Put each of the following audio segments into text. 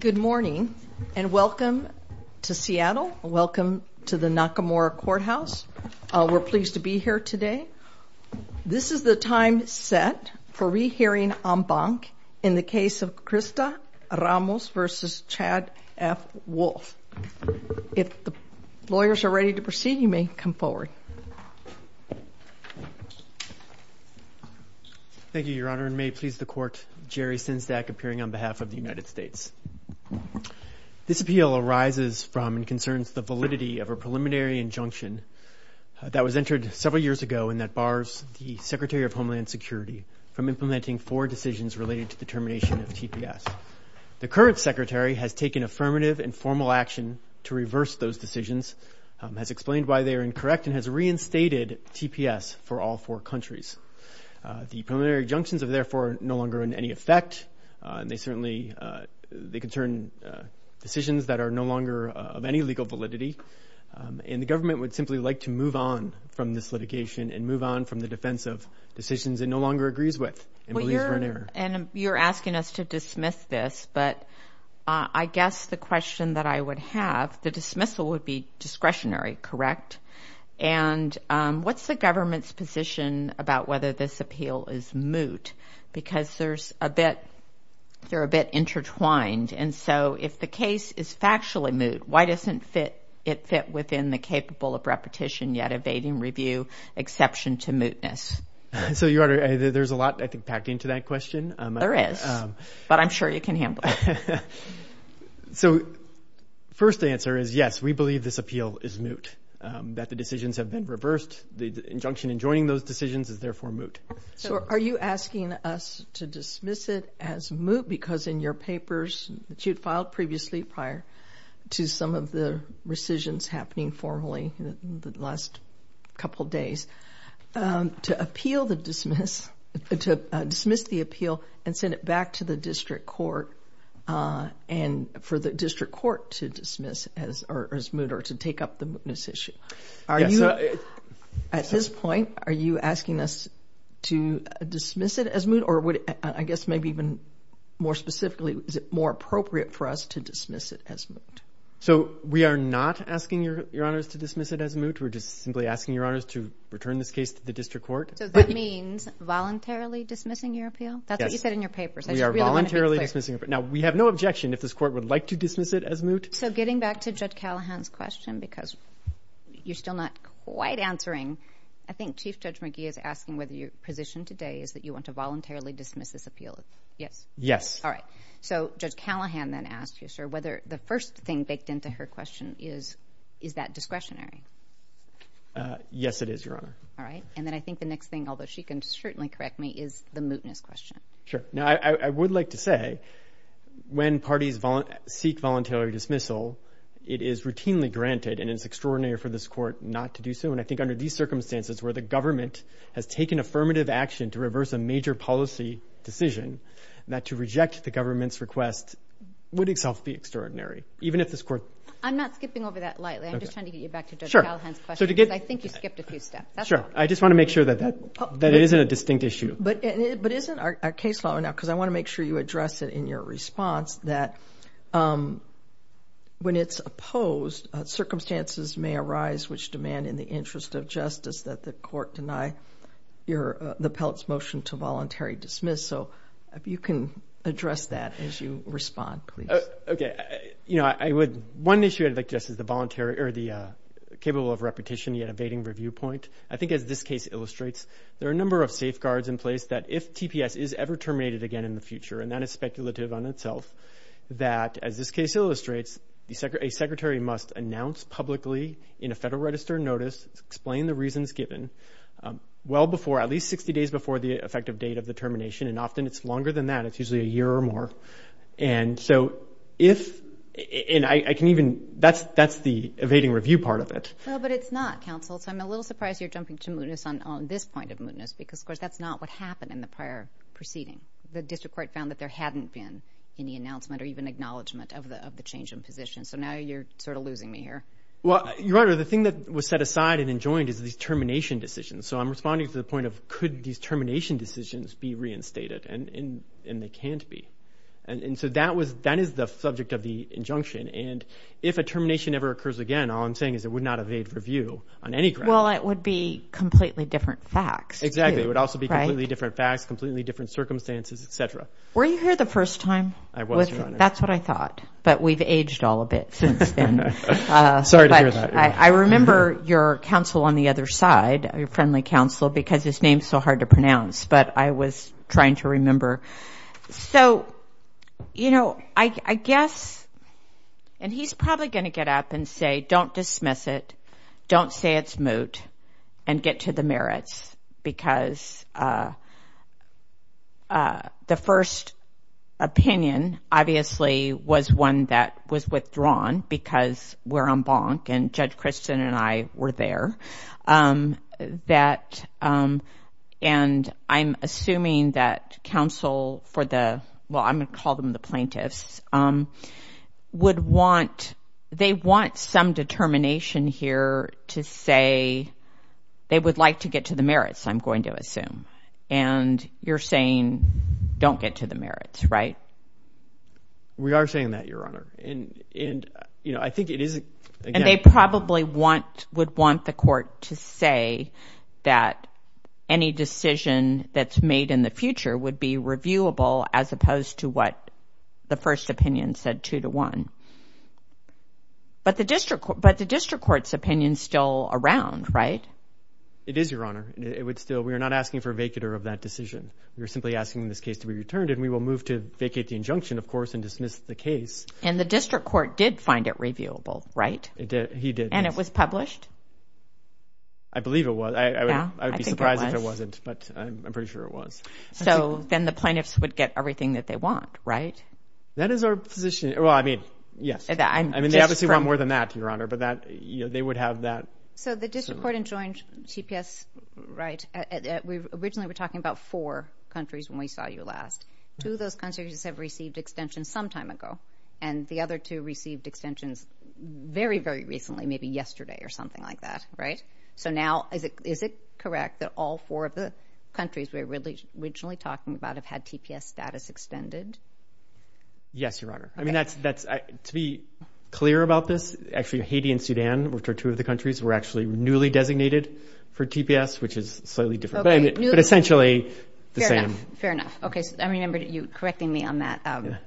Good morning and welcome to Seattle. Welcome to the Nakamura Courthouse. We're pleased to be here today. This is the time set for re-hearing en banc in the case of Crista Ramos v. Chad F. Wolf. If the lawyers are ready to proceed, you may come forward. Thank you, Your Honor, and may it please the Court, Jerry on behalf of the United States. This appeal arises from and concerns the validity of a preliminary injunction that was entered several years ago and that bars the Secretary of Homeland Security from implementing four decisions related to the termination of TPS. The current Secretary has taken affirmative and formal action to reverse those decisions, has explained why they are incorrect, and has reinstated TPS for all four countries. The primary junctions are therefore no longer in any effect, and they certainly, they concern decisions that are no longer of any legal validity, and the government would simply like to move on from this litigation and move on from the defense of decisions it no longer agrees with and believes we're in error. And you're asking us to dismiss this, but I guess the question that I would have, the dismissal would be discretionary, correct? And what's the government's position about whether this appeal is moot? Because there's a bit, they're a bit intertwined, and so if the case is factually moot, why doesn't it fit within the capable of repetition yet evading review exception to mootness? So, Your Honor, there's a lot, I think, packed into that question. There is, but I'm sure you can handle it. So, first answer is yes, we believe this appeal is moot, that the joining those decisions is therefore moot. So, are you asking us to dismiss it as moot, because in your papers that you'd filed previously prior to some of the rescissions happening formally in the last couple days, to appeal the dismiss, to dismiss the appeal and send it back to the district court, and for the district court to dismiss as moot, or to take up the mootness issue. Are you, at this point, are you asking us to dismiss it as moot, or would, I guess, maybe even more specifically, is it more appropriate for us to dismiss it as moot? So, we are not asking Your Honors to dismiss it as moot. We're just simply asking Your Honors to return this case to the district court. So, that means voluntarily dismissing your appeal? That's what you said in your papers. We are voluntarily dismissing. Now, we have no objection if this court would like to dismiss it as moot. So, getting back to Judge Callahan's question, because you're still not quite answering, I think Chief Judge McGee is asking whether your position today is that you want to voluntarily dismiss this appeal? Yes. Yes. All right. So, Judge Callahan then asked you, sir, whether the first thing baked into her question is, is that discretionary? Yes, it is, Your Honor. All right. And then I think the next thing, although she can certainly correct me, is the mootness question. Sure. Now, I would like to say, when parties seek voluntary dismissal, it is routinely granted, and it's extraordinary for this court not to do so, and I think under these circumstances, where the government has taken affirmative action to reverse a major policy decision, that to reject the government's request would itself be extraordinary, even if this court... I'm not skipping over that lightly. I'm just trying to get you back to Judge Callahan's question, because I think you skipped a few steps. Sure. I just want to make sure that that isn't a distinct issue. But isn't our case law now, because I want to make sure you address it in your response, that when it's opposed, circumstances may arise which demand in the interest of justice that the court deny the Pellitt's motion to voluntary dismiss. So, if you can address that as you respond, please. Okay. You know, I would... One issue I'd like to address is the voluntary, or the capable of repetition, yet evading review point. I think, as this case illustrates, there are a number of safeguards in place that, if TPS is ever terminated again in the future, and that is speculative on itself, that, as this case illustrates, a secretary must announce publicly in a Federal Register notice, explain the reasons given, well before, at least 60 days before, the effective date of the termination. And often, it's longer than that. It's usually a year or more. And so, if... And I can even... That's the evading review part of it. No, but it's not, counsel. So, I'm a little surprised you're jumping to mootness on this point of mootness, because, of course, that's not what happened in the prior proceeding. The district court found that there hadn't been any announcement, or even acknowledgment, of the change in position. So, now you're sort of losing me here. Well, Your Honor, the thing that was set aside and enjoined is these termination decisions. So, I'm responding to the point of, could these termination decisions be reinstated? And they can't be. And so, that was... That is the subject of the injunction. And if a termination ever occurs again, all I'm saying is it would not evade review on any grounds. Well, it would be completely different facts. Exactly. It would also be completely different facts, completely different circumstances, et cetera. Were you here the first time? I was, Your Honor. That's what I thought. But we've aged all of it since then. Sorry to hear that. I remember your counsel on the other side, your friendly counsel, because his name's so hard to pronounce. But I was trying to remember. So, you know, I guess... And he's probably going to get up and say, don't dismiss it. Don't say it's moot. And get to the merits. The first opinion, obviously, was one that was withdrawn because we're on bonk. And Judge Christin and I were there. And I'm assuming that counsel for the... Well, I'm going to call them the plaintiffs. Would want... They want some determination here to say they would like to get to the merits, I'm going to say, don't get to the merits, right? We are saying that, Your Honor. And, you know, I think it is... And they probably would want the court to say that any decision that's made in the future would be reviewable as opposed to what the first opinion said two to one. But the district court's opinion's still around, right? It is, Your Honor. It would still... We are not asking for a vacater of that decision. We're simply asking this case to be returned. And we will move to vacate the injunction, of course, and dismiss the case. And the district court did find it reviewable, right? It did. He did. And it was published? I believe it was. I would be surprised if it wasn't. But I'm pretty sure it was. So then the plaintiffs would get everything that they want, right? That is our position. Well, I mean, yes. I mean, they obviously want more than that, Your Honor. But that, you know, they would have that... So the district court enjoined TPS, right? Originally, we were talking about four countries when we saw you last. Two of those countries have received extensions some time ago, and the other two received extensions very, very recently, maybe yesterday or something like that, right? So now, is it correct that all four of the countries we were originally talking about have had TPS status extended? Yes, Your Honor. I mean, that's... To be clear about this, actually, Haiti and Sudan, which are two of the countries, were actually newly designated for TPS, which is slightly different. But essentially, the same. Fair enough. Okay. I remember you correcting me on that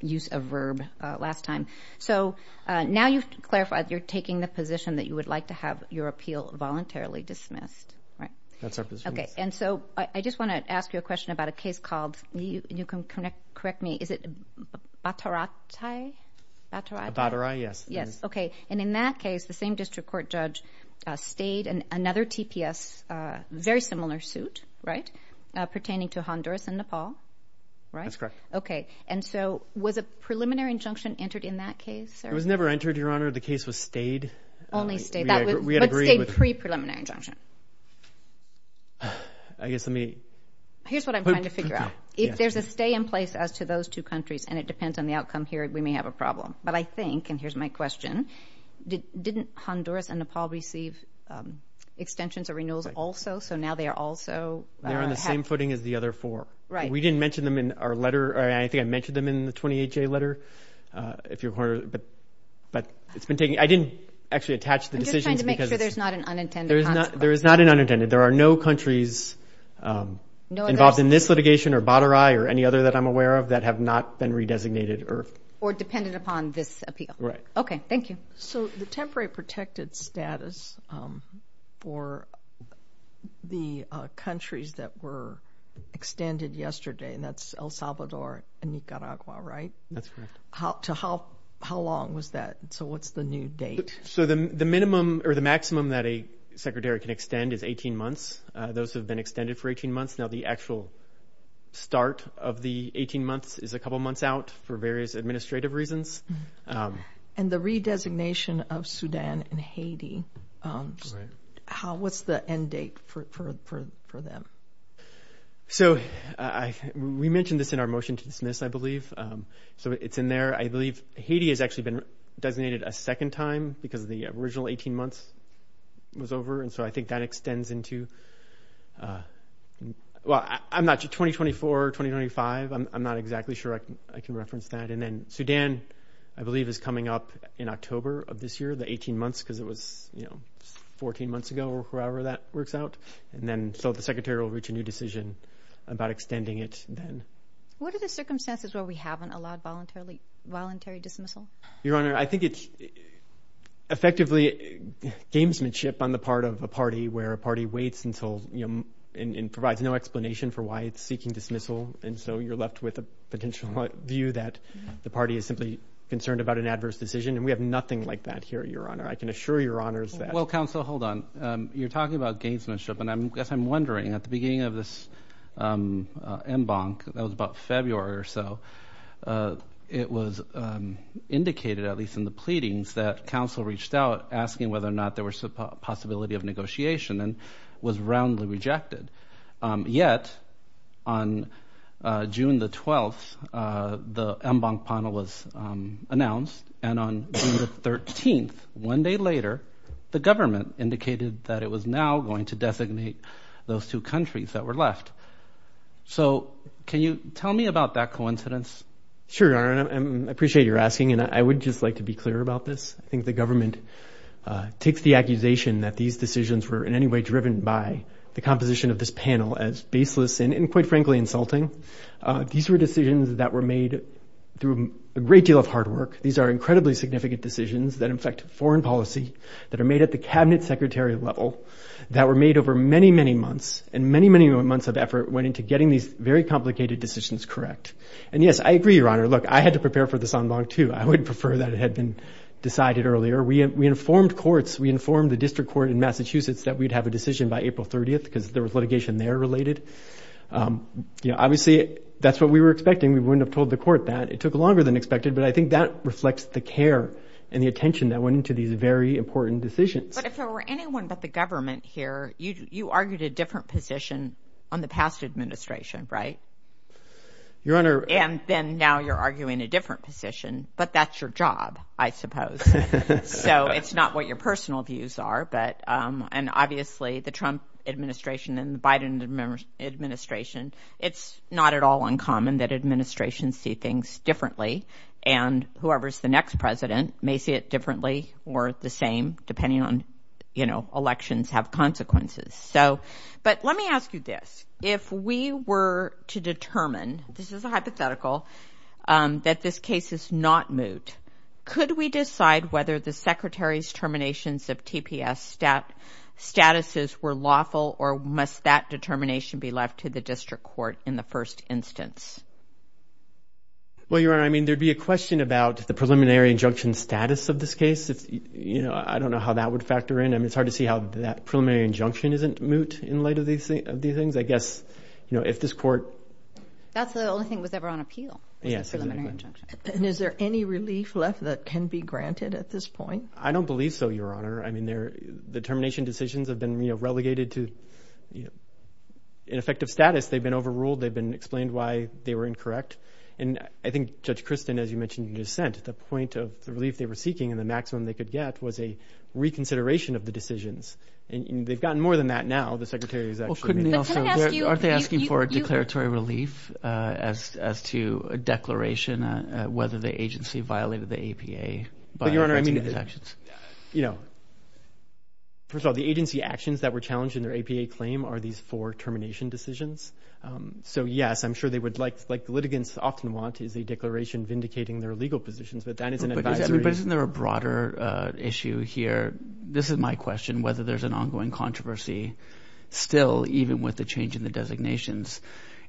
use of verb last time. So now, you've clarified, you're taking the position that you would like to have your appeal voluntarily dismissed, right? That's our position. Okay. And so, I just wanna ask you a question about a case called... You can correct me. Is it Bataratay? Bataratay? Bataray, yes. Yes. Okay. And in that case, the same district court judge stayed in another TPS, very similar suit, right? Pertaining to Honduras and Nepal, right? That's correct. Okay. And so, was a preliminary injunction entered in that case? It was never entered, Your Honor. The case was stayed. Only stayed. We had agreed with... But stayed pre-preliminary injunction. I guess let me... Here's what I'm trying to figure out. If there's a stay in place as to those two countries, and it depends on the outcome here, we may have a problem. But I think, and here's my question, didn't Honduras and Nepal receive extensions or renewals also? So now, they are also... They're on the same footing as the other four. Right. We didn't mention them in our letter. I think I mentioned them in the 28-J letter, if you've heard. But it's been taking... I didn't actually attach the decisions because... I'm just trying to make sure there's not an unintended consequence. There is not an unintended. There are no countries involved in this litigation, or Bataray, or any other that I'm aware of, that have not been pre-designated or... Or depended upon this appeal. Right. Okay. Thank you. So, the temporary protected status for the countries that were extended yesterday, and that's El Salvador and Nicaragua, right? That's correct. How long was that? So, what's the new date? So, the minimum or the maximum that a Secretary can extend is 18 months. Those have been extended for 18 months. Now, the various administrative reasons. And the re-designation of Sudan and Haiti. How... What's the end date for them? So, I... We mentioned this in our motion to dismiss, I believe. So, it's in there. I believe Haiti has actually been designated a second time because the original 18 months was over. And so, I think that extends into... Well, I'm not... 2024, 2025. I'm not exactly sure I can reference that. And then, Sudan, I believe, is coming up in October of this year, the 18 months, because it was, you know, 14 months ago or however that works out. And then, so the Secretary will reach a new decision about extending it then. What are the circumstances where we haven't allowed voluntary dismissal? Your Honor, I think it's effectively gamesmanship on the part of a party where a party waits until, you know, and provides no explanation for why it's seeking dismissal. And so, you're left with a potential view that the party is simply concerned about an adverse decision. And we have nothing like that here, Your Honor. I can assure Your Honors that... Well, Counsel, hold on. You're talking about gamesmanship. And I guess I'm wondering, at the beginning of this embankment, that was about February or so, it was indicated, at least in the pleadings, that counsel reached out asking whether or not there was a possibility of negotiation and was roundly rejected. Yet, on June the 12th, the embankment panel was announced. And on June the 13th, one day later, the government indicated that it was now going to designate those two countries that were left. So, can you tell me about that coincidence? Sure, Your Honor. I appreciate you're asking. And I would just like to be clear about this. I think the accusation that these decisions were, in any way, driven by the composition of this panel as baseless and, quite frankly, insulting. These were decisions that were made through a great deal of hard work. These are incredibly significant decisions that affect foreign policy, that are made at the cabinet secretary level, that were made over many, many months. And many, many months of effort went into getting these very complicated decisions correct. And yes, I agree, Your Honor. Look, I had to prepare for this en banc, too. I would prefer that it had been decided earlier. We informed courts, we informed the district court in Massachusetts that we'd have a decision by April 30th, because there was litigation there related. You know, obviously, that's what we were expecting. We wouldn't have told the court that. It took longer than expected, but I think that reflects the care and the attention that went into these very important decisions. But if there were anyone but the government here, you argued a different position on the past administration, right? Your job, I suppose. So it's not what your personal views are. But and obviously, the Trump administration and the Biden administration, it's not at all uncommon that administrations see things differently. And whoever's the next president may see it differently or the same, depending on, you know, elections have consequences. So but let me ask you this. If we were to determine this is a moot, could we decide whether the secretary's terminations of TPS statuses were lawful or must that determination be left to the district court in the first instance? Well, Your Honor, I mean, there'd be a question about the preliminary injunction status of this case. You know, I don't know how that would factor in. I mean, it's hard to see how that preliminary injunction isn't moot in light of these things. I guess, you know, if this court... That's the only thing that was ever on appeal was the preliminary injunction. Yes. And is there any relief left that can be granted at this point? I don't believe so, Your Honor. I mean, the termination decisions have been, you know, relegated to an effective status. They've been overruled. They've been explained why they were incorrect. And I think Judge Christin, as you mentioned in your dissent, the point of the relief they were seeking and the maximum they could get was a reconsideration of the decisions. And they've gotten more than that now. The as to a declaration whether the agency violated the APA. But, Your Honor, I mean, you know, first of all, the agency actions that were challenged in their APA claim are these four termination decisions. So, yes, I'm sure they would like, like the litigants often want, is a declaration vindicating their legal positions. But that is an advisory... But isn't there a broader issue here? This is my question, whether there's an ongoing controversy still, even with the change in the designations.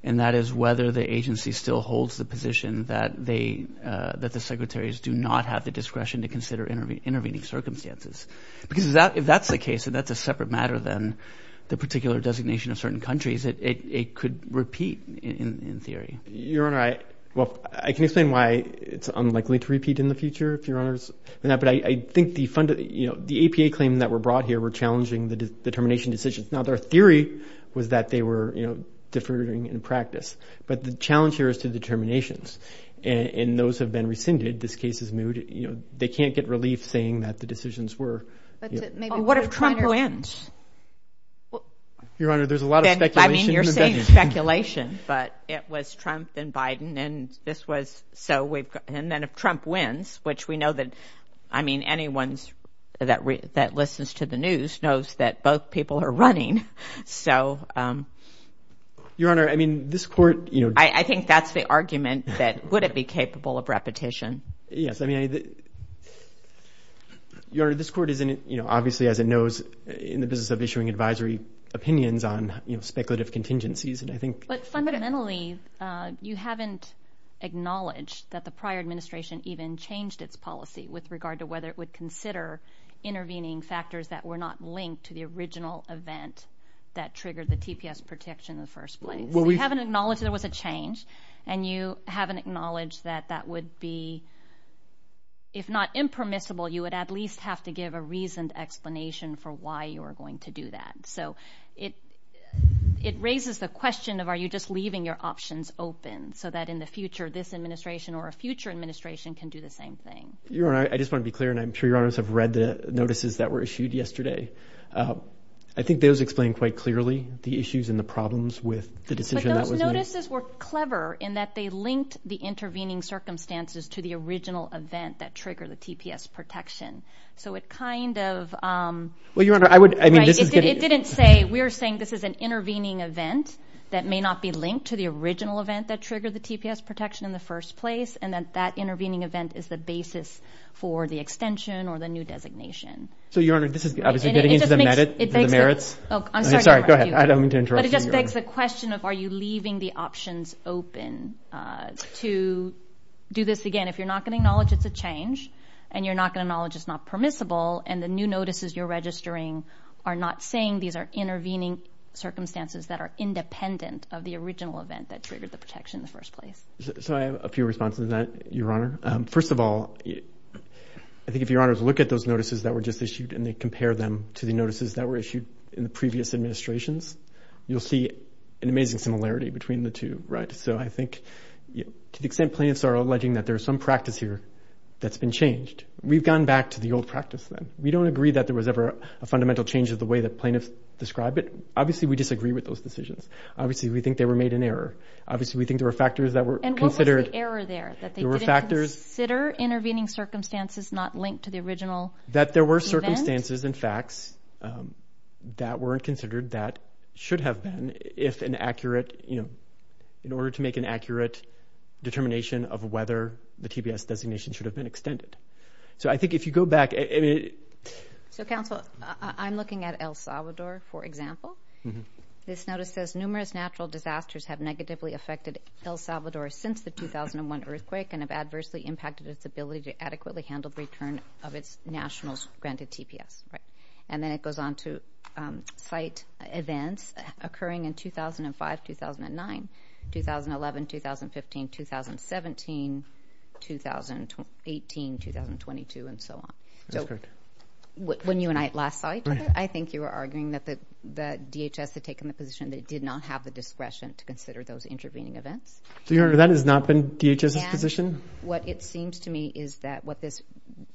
And that is whether the agency still holds the position that they, that the secretaries do not have the discretion to consider intervening circumstances. Because if that's the case, and that's a separate matter than the particular designation of certain countries, it could repeat in theory. Your Honor, I, well, I can explain why it's unlikely to repeat in the future, if Your Honor's in that, but I think the fund, you know, the APA claim that were brought here were challenging the determination decisions. Now, their theory was that they were, you know, deferring in practice. But the challenge here is to determinations. And those have been rescinded. This case is moved, you know, they can't get relief saying that the decisions were... What if Trump wins? Your Honor, there's a lot of speculation. I mean, you're saying speculation, but it was Trump and Biden, and this was, so we've got, and then if Trump wins, which we know that, I mean, anyone's that listens to the news knows that both people are running. So, Your Honor, I mean, this court, you know... I think that's the argument that, would it be capable of repetition? Yes, I mean, Your Honor, this court is in, you know, obviously, as it knows, in the business of issuing advisory opinions on, you know, speculative contingencies, and I think... But fundamentally, you haven't acknowledged that the prior administration even changed its policy with regard to whether it would consider intervening factors that were not linked to the You haven't acknowledged there was a change, and you haven't acknowledged that that would be, if not impermissible, you would at least have to give a reasoned explanation for why you are going to do that. So, it raises the question of, are you just leaving your options open so that in the future, this administration or a future administration can do the same thing? Your Honor, I just want to be clear, and I'm sure Your Honors have read the notices that were issued yesterday. I think those explain quite clearly the issues and the decision that was made. But those notices were clever in that they linked the intervening circumstances to the original event that triggered the TPS protection. So, it kind of... Well, Your Honor, I would... It didn't say, we're saying this is an intervening event that may not be linked to the original event that triggered the TPS protection in the first place, and that that intervening event is the basis for the extension or the new designation. So, Your Honor, this is obviously getting into the merits. I'm sorry. Go ahead. I don't mean to interrupt. But it just begs the question of, are you leaving the options open to do this again? If you're not gonna acknowledge it's a change, and you're not gonna acknowledge it's not permissible, and the new notices you're registering are not saying these are intervening circumstances that are independent of the original event that triggered the protection in the first place. So, I have a few responses to that, Your Honor. First of all, I think if Your Honors look at those notices that were just issued and they compare them to the in the previous administrations, you'll see an amazing similarity between the two, right? So, I think to the extent plaintiffs are alleging that there's some practice here that's been changed, we've gone back to the old practice then. We don't agree that there was ever a fundamental change of the way that plaintiffs describe it. Obviously, we disagree with those decisions. Obviously, we think they were made in error. Obviously, we think there were factors that were considered... And what was the error there? That they didn't consider intervening circumstances not linked to the original event? That there were circumstances and facts that weren't considered that should have been if an accurate... In order to make an accurate determination of whether the TPS designation should have been extended. So, I think if you go back... So, counsel, I'm looking at El Salvador, for example. This notice says, numerous natural disasters have negatively affected El Salvador since the 2001 earthquake and have adversely impacted its ability to adequately handle the return of its nationals granted TPS, right? And then it goes on to cite events occurring in 2005, 2009, 2011, 2015, 2017, 2018, 2022, and so on. That's correct. When you and I last saw each other, I think you were arguing that the DHS had taken the position that it did not have the discretion to consider those intervening events. So, you're arguing that has not been DHS's position? What it seems to me is that what this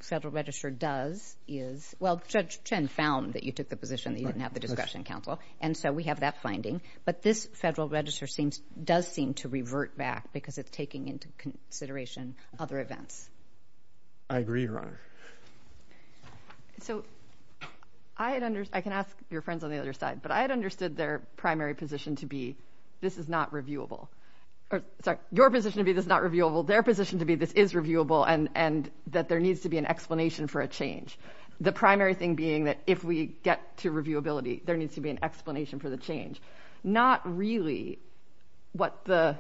federal register does is... Well, Judge Chen found that you took the position that you didn't have the discretion, counsel. And so, we have that finding. But this federal register does seem to revert back because it's taking into consideration other events. I agree, Your Honor. So, I can ask your friends on the other side, but I had understood their primary position to be, this is not reviewable. Sorry, your position to be, this is not reviewable. Their position to be, this is reviewable, and that there needs to be an explanation for a change. The primary thing being that if we get to reviewability, there needs to be an explanation for the change. Not really what the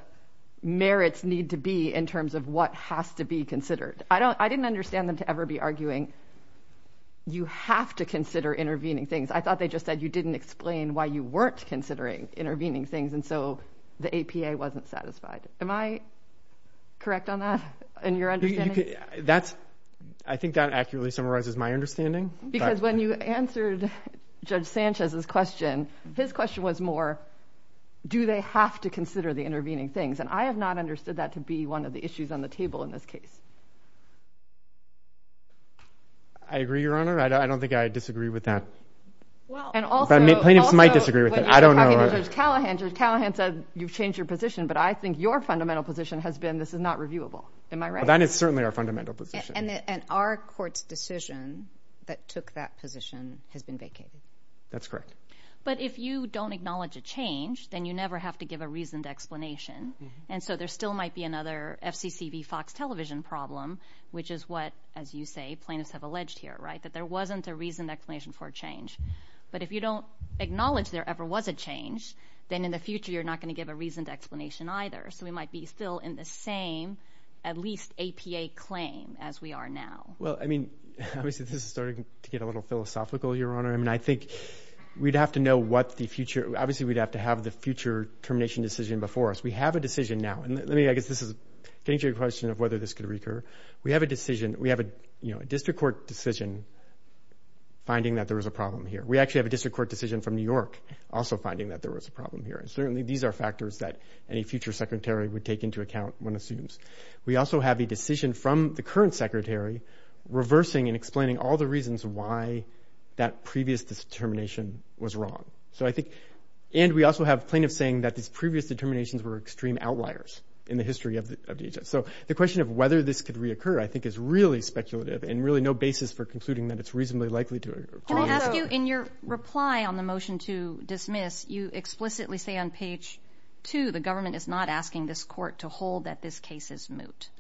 merits need to be in terms of what has to be considered. I didn't understand them to ever be arguing, you have to consider intervening things. I thought they just said you didn't explain why you weren't considering intervening things. And so, the APA wasn't satisfied. Am I correct on that, in your understanding? I think that accurately summarizes my understanding. Because when you answered Judge Sanchez's question, his question was more, do they have to consider the intervening things? And I have not understood that to be one of the issues on the table in this case. I agree, Your Honor. I don't think I disagree with that. And also... Plaintiffs might disagree with that. I don't know. When you were asked to change your position, but I think your fundamental position has been, this is not reviewable. Am I right? That is certainly our fundamental position. And our court's decision that took that position has been vacated. That's correct. But if you don't acknowledge a change, then you never have to give a reasoned explanation. And so, there still might be another FCC v Fox Television problem, which is what, as you say, plaintiffs have alleged here, that there wasn't a reasoned explanation for a change. But if you don't acknowledge there ever was a change, then in the future, you're not gonna give a reasoned explanation either. So we might be still in the same, at least, APA claim as we are now. Well, I mean, obviously, this is starting to get a little philosophical, Your Honor. I mean, I think we'd have to know what the future... Obviously, we'd have to have the future termination decision before us. We have a decision now. And let me... I guess this is getting to your question of whether this could recur. We have a decision, we have a district court decision finding that there was a problem here. We actually have a district court decision from New York also finding that there was a problem here. And certainly, these are factors that any future Secretary would take into account, one assumes. We also have a decision from the current Secretary reversing and explaining all the reasons why that previous determination was wrong. So I think... And we also have plaintiffs saying that these previous determinations were extreme outliers in the history of DHS. So the question of whether this could reoccur, I think, is really speculative and really no basis for concluding that it's reasonably likely to... Can I ask you, in your reply on the motion to explicitly say on page two, the government is not asking this court to hold that this case is moot?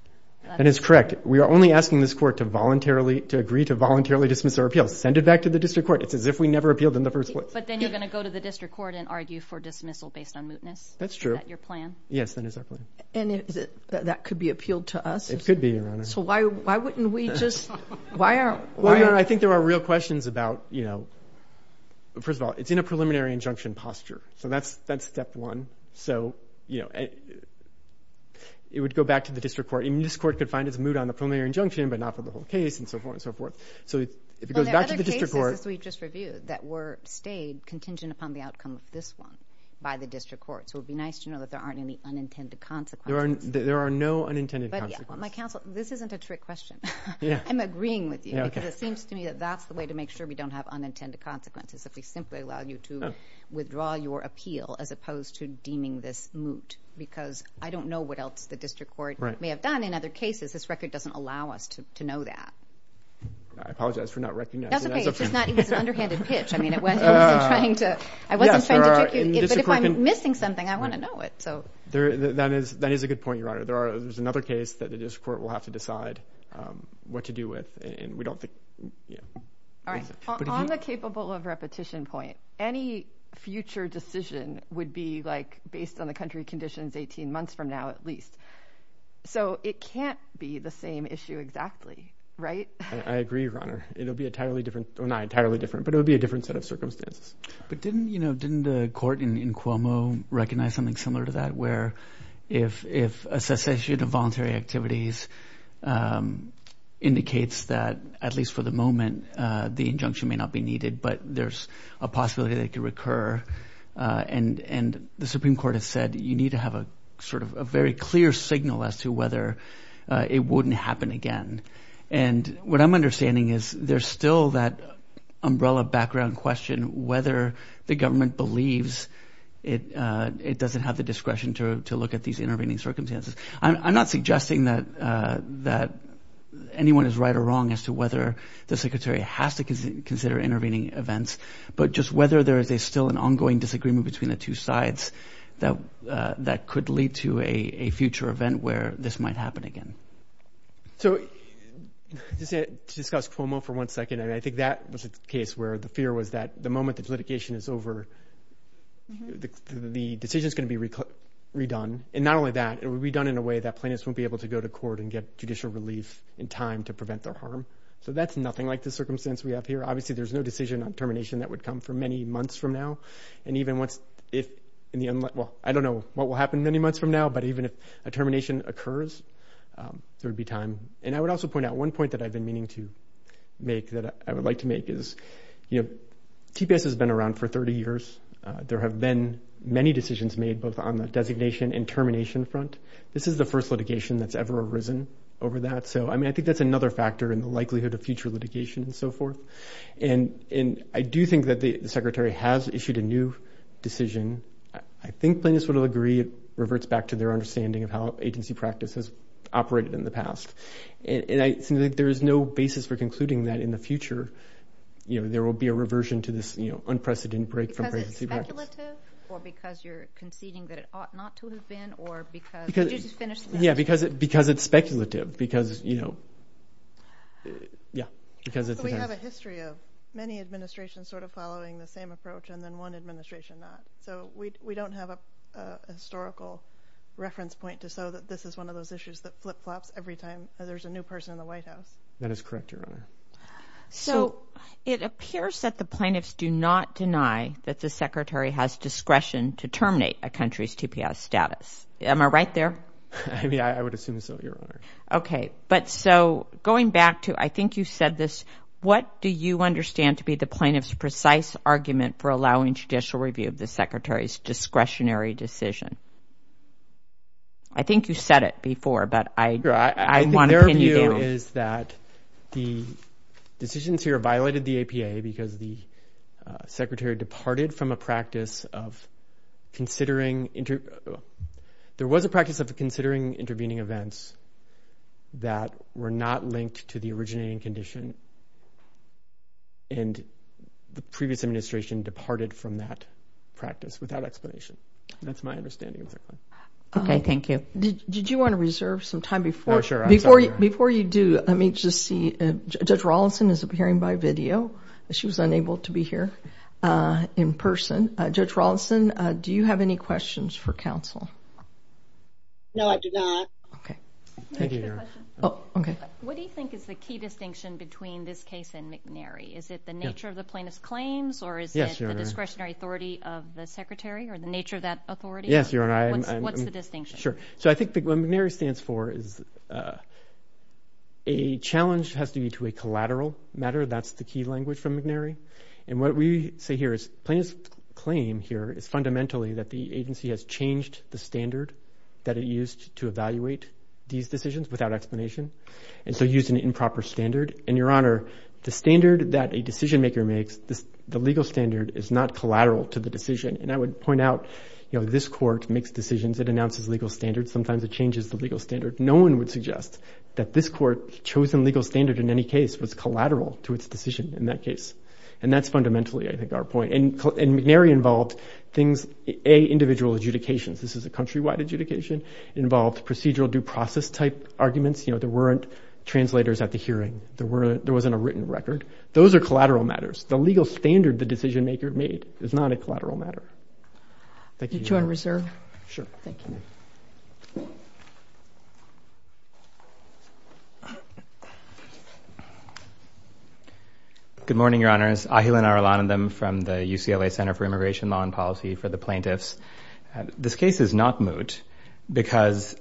That is correct. We are only asking this court to voluntarily... To agree to voluntarily dismiss our appeal. Send it back to the district court. It's as if we never appealed in the first place. But then you're gonna go to the district court and argue for dismissal based on mootness? That's true. Is that your plan? Yes, that is our plan. And that could be appealed to us? It could be, Your Honor. So why wouldn't we just... Why aren't... Well, Your Honor, I think there are real questions about... First of all, it's in a preliminary injunction posture. So that's step one. So it would go back to the district court. And this court could find it's moot on a preliminary injunction, but not for the whole case and so forth and so forth. So if it goes back to the district court... Well, there are other cases, as we've just reviewed, that were stayed contingent upon the outcome of this one by the district court. So it would be nice to know that there aren't any unintended consequences. There are no unintended consequences. But my counsel, this isn't a trick question. I'm agreeing with you, because it seems to me that that's the way to make sure we don't have unintended consequences. If we simply allow you to withdraw your appeal, as opposed to deeming this moot, because I don't know what else the district court may have done. In other cases, this record doesn't allow us to know that. I apologize for not recognizing that. That's okay. It's just not... It was an underhanded pitch. I wasn't trying to trick you. But if I'm missing something, I wanna know it. That is a good point, Your Honor. There's another case that the district court will have to decide what to do with, and we don't think... Yeah. Alright. On the capable of repetition point, any future decision would be based on the country conditions 18 months from now, at least. So it can't be the same issue exactly, right? I agree, Your Honor. It'll be entirely different. Well, not entirely different, but it would be a different set of circumstances. But didn't the court in Cuomo recognize something similar to that, where if a cessation of action may not be needed, but there's a possibility that it could recur? And the Supreme Court has said, you need to have a very clear signal as to whether it wouldn't happen again. And what I'm understanding is, there's still that umbrella background question, whether the government believes it doesn't have the discretion to look at these intervening circumstances. I'm not suggesting that anyone is right or wrong as to whether the government believes there are intervening events, but just whether there is still an ongoing disagreement between the two sides that could lead to a future event where this might happen again. So to discuss Cuomo for one second, I think that was a case where the fear was that the moment that litigation is over, the decision's gonna be redone. And not only that, it would be done in a way that plaintiffs won't be able to go to court and get judicial relief in time to prevent their harm. So that's nothing like the circumstance we have here. Obviously, there's no decision on termination that would come for many months from now. And even once if in the... Well, I don't know what will happen many months from now, but even if a termination occurs, there would be time. And I would also point out one point that I've been meaning to make, that I would like to make is, TPS has been around for 30 years. There have been many decisions made both on the designation and termination front. This is the first litigation that's ever arisen over that. So I think that's another factor in the likelihood of future litigation and so forth. And I do think that the Secretary has issued a new decision. I think plaintiffs would all agree it reverts back to their understanding of how agency practice has operated in the past. And I think there is no basis for concluding that in the future, there will be a reversion to this unprecedented break from presidency practice. Because it's speculative? Or because you're conceding that it ought not to have been? Or because... Did you just finish the question? Yeah. Because it's... We have a history of many administrations sort of following the same approach and then one administration not. So we don't have a historical reference point to show that this is one of those issues that flip flops every time there's a new person in the White House. That is correct, Your Honor. So it appears that the plaintiffs do not deny that the Secretary has discretion to terminate a country's TPS status. Am I right there? Yeah, I would assume so, Your Honor. Okay. But so, going back to... I think you said this, what do you understand to be the plaintiff's precise argument for allowing judicial review of the Secretary's discretionary decision? I think you said it before, but I wanna pin you down. I think their view is that the decisions here violated the APA because the Secretary departed from a practice of considering... There was a practice of considering intervening events that were not linked to the originating condition, and the previous administration departed from that practice without explanation. That's my understanding of that point. Okay, thank you. Did you wanna reserve some time before... No, sure. Before you do, let me just see... Judge Rawlinson is appearing by video. She was unable to be here in person. Judge Rawlinson, do you have any questions for counsel? No, I do not. Okay. Thank you, Your Honor. Oh, okay. What do you think is the key distinction between this case and McNary? Is it the nature of the plaintiff's claims, or is it the discretionary authority of the Secretary, or the nature of that authority? Yes, Your Honor. What's the distinction? Sure. So I think what McNary stands for is a challenge has to be to a collateral matter. That's the key language from McNary. And what we say here is plaintiff's claim here is fundamentally that the agency has changed the standard that it used to evaluate these decisions without explanation, and so used an improper standard. And Your Honor, the standard that a decision maker makes, the legal standard is not collateral to the decision. And I would point out, this court makes decisions, it announces legal standards, sometimes it changes the legal standard. No one would suggest that this court's chosen legal standard in any case was collateral to its decision in that case. And that's fundamentally, I think, our point. And McNary involved things, A, individual adjudications. This is a country wide adjudication. It involved procedural due process type arguments. There weren't translators at the hearing. There wasn't a written record. Those are collateral matters. The legal standard the decision maker made is not a collateral matter. Thank you, Your Honor. Did you wanna reserve? Sure. Thank you. Good morning, Your Honors. Ahilan Arulanandam from the UCLA Center for Immigration Law and Policy for the Plaintiffs. This case is not moot because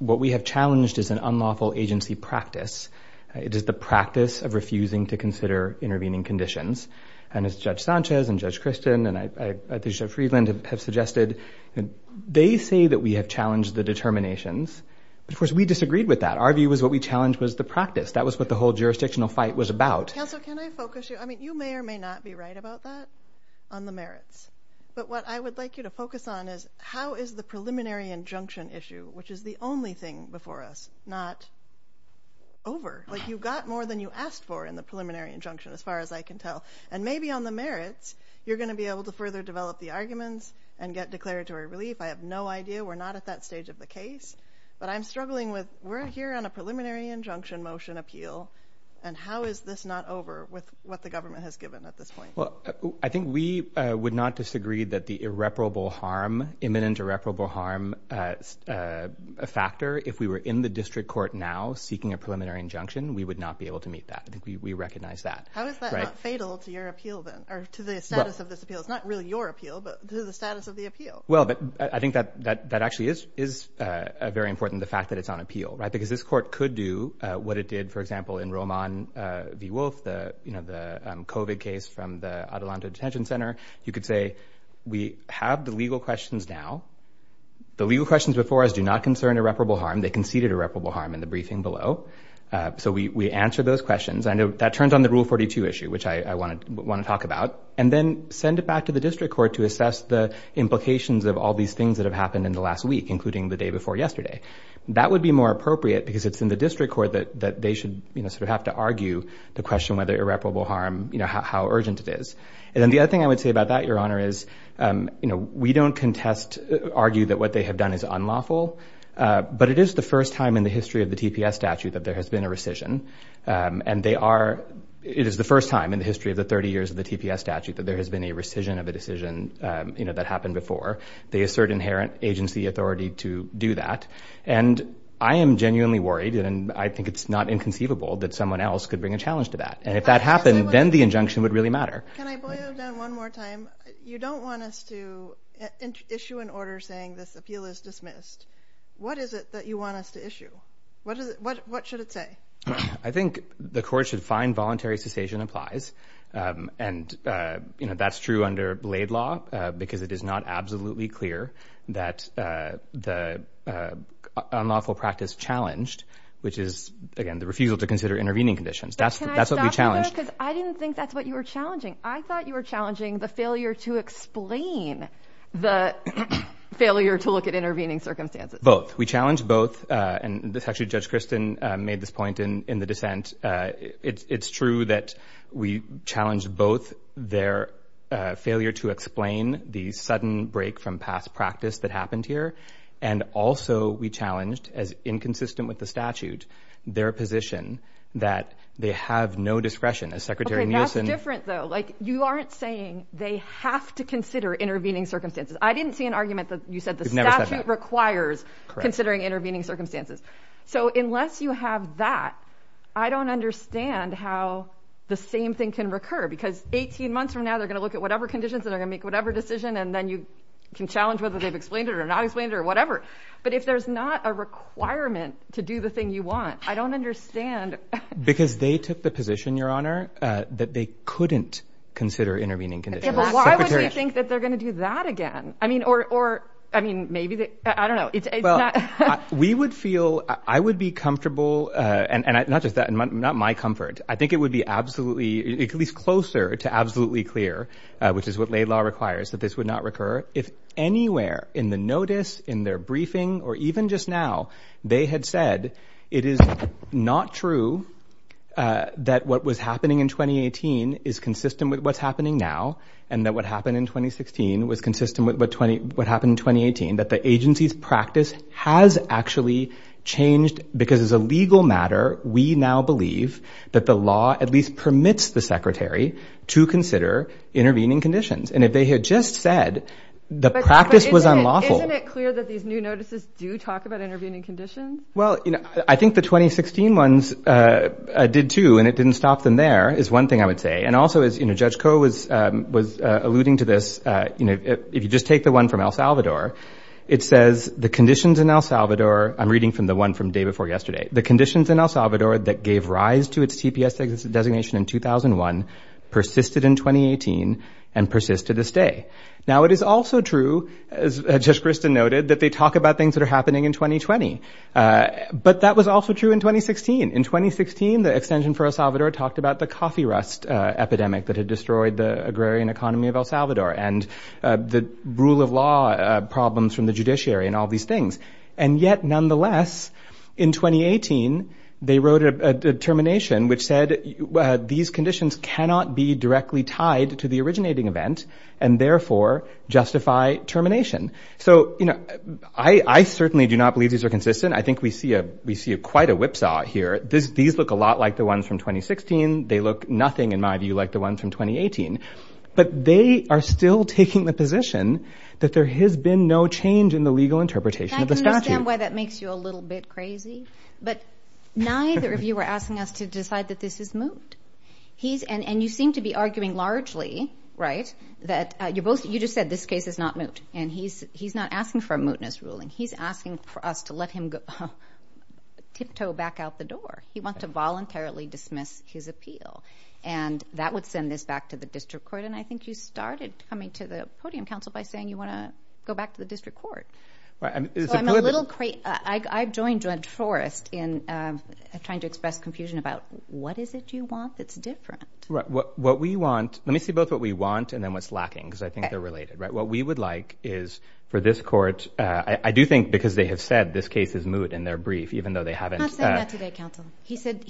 what we have challenged is an unlawful agency practice. It is the practice of refusing to consider intervening conditions. And as Judge Sanchez and Judge Christian and Judge Friedland have suggested, they say that we have challenged the determinations. Of course, we disagreed with that. Our view was what we challenged was the practice. That was what the whole jurisdictional fight was about. Counselor, can I focus you? I mean, you may or may not be right about that on the merits. But what I would like you to focus on is, how is the preliminary injunction issue, which is the only thing before us, not over? You got more than you asked for in the preliminary injunction, as far as I can tell. And maybe on the merits, you're gonna be declaratory relief. I have no idea. We're not at that stage of the case. But I'm struggling with... We're here on a preliminary injunction motion appeal. And how is this not over with what the government has given at this point? Well, I think we would not disagree that the irreparable harm, imminent irreparable harm factor, if we were in the district court now seeking a preliminary injunction, we would not be able to meet that. I think we recognize that. How is that not fatal to your appeal then? Or to the status of this appeal? It's not really your appeal, but to the status of the appeal. Well, but I think that actually is very important, the fact that it's on appeal. Because this court could do what it did, for example, in Roman v. Wolf, the COVID case from the Adelanto Detention Center. You could say, we have the legal questions now. The legal questions before us do not concern irreparable harm. They conceded irreparable harm in the briefing below. So we answered those questions. I know that turns on the Rule 42 issue, which I wanna talk about. And then send it back to the district court to assess the implications of all these things that have happened in the last week, including the day before yesterday. That would be more appropriate because it's in the district court that they should have to argue the question whether irreparable harm, how urgent it is. And then the other thing I would say about that, Your Honor, is we don't contest, argue that what they have done is unlawful, but it is the first time in the history of the TPS statute that there has been a rescission. And they are... It is the first time in the history of the 30 years of the TPS statute that there has been a rescission of a decision that happened before. They assert inherent agency authority to do that. And I am genuinely worried, and I think it's not inconceivable that someone else could bring a challenge to that. And if that happened, then the injunction would really matter. Can I boil it down one more time? You don't want us to issue an order saying this appeal is dismissed. What is it that you want us to issue? What should it say? I think the court should find voluntary cessation applies. And that's true under Blade Law, because it is not absolutely clear that the unlawful practice challenged, which is, again, the refusal to consider intervening conditions. That's what we challenged. But can I stop you there? Because I didn't think that's what you were challenging. I thought you were challenging the failure to explain the failure to look at intervening circumstances. Both. We challenge both. And this actually, Judge Kristen made this point in the dissent. It's true that we challenged both their failure to explain the sudden break from past practice that happened here. And also, we challenged, as inconsistent with the statute, their position that they have no discretion. As Secretary Nielsen... Okay, that's different, though. You aren't saying they have to consider intervening circumstances. I didn't see an argument that you said the statute requires considering intervening circumstances. So unless you have that, I don't understand how the same thing can recur. Because 18 months from now, they're gonna look at whatever conditions, and they're gonna make whatever decision, and then you can challenge whether they've explained it or not explained it or whatever. But if there's not a requirement to do the thing you want, I don't understand... Because they took the position, Your Honor, that they couldn't consider intervening conditions. Secretary... Yeah, but why would they think that they're gonna do that again? Or maybe they... I don't know. Well, we would feel... I would be comfortable, and not just that, and not my comfort. I think it would be absolutely, at least closer to absolutely clear, which is what laid law requires, that this would not recur. If anywhere in the notice, in their briefing, or even just now, they had said, it is not true that what was happening in 2018 is consistent with what's happening now, and that what happened in the practice has actually changed, because as a legal matter, we now believe that the law at least permits the Secretary to consider intervening conditions. And if they had just said the practice was unlawful... But isn't it clear that these new notices do talk about intervening conditions? Well, I think the 2016 ones did too, and it didn't stop them there, is one thing I would say. And also, as Judge Koh was alluding to this, if you just take the one from El Salvador, it says, the conditions in El Salvador... I'm reading from the one from the day before yesterday. The conditions in El Salvador that gave rise to its TPS designation in 2001, persisted in 2018, and persist to this day. Now, it is also true, as Judge Christin noted, that they talk about things that are happening in 2020. But that was also true in 2016. In 2016, the extension for El Salvador talked about the coffee war, and the rule of law problems from the judiciary, and all these things. And yet, nonetheless, in 2018, they wrote a determination which said, these conditions cannot be directly tied to the originating event, and therefore, justify termination. So, I certainly do not believe these are consistent. I think we see quite a whipsaw here. These look a lot like the ones from 2016. They look nothing, in my view, like the ones from 2018. But they are still taking the position that there has been no change in the legal interpretation of the statute. I can understand why that makes you a little bit crazy, but neither of you are asking us to decide that this is moot. He's... And you seem to be arguing, largely, right? That you're both... You just said, this case is not moot. And he's not asking for a mootness ruling. He's asking for us to let him tip toe back out the door. He wants to voluntarily dismiss his appeal. And that would send this back to the district court. And I think you started coming to the podium, counsel, by saying you wanna go back to the district court. I'm a little... I joined Judge Forrest in trying to express confusion about, what is it you want that's different? Right. What we want... Let me see both what we want, and then what's lacking, because I think they're related, right? What we would like is, for this court... I do think, because they have said this case is moot in their brief, even though they haven't... I'm not saying that today, but I'm saying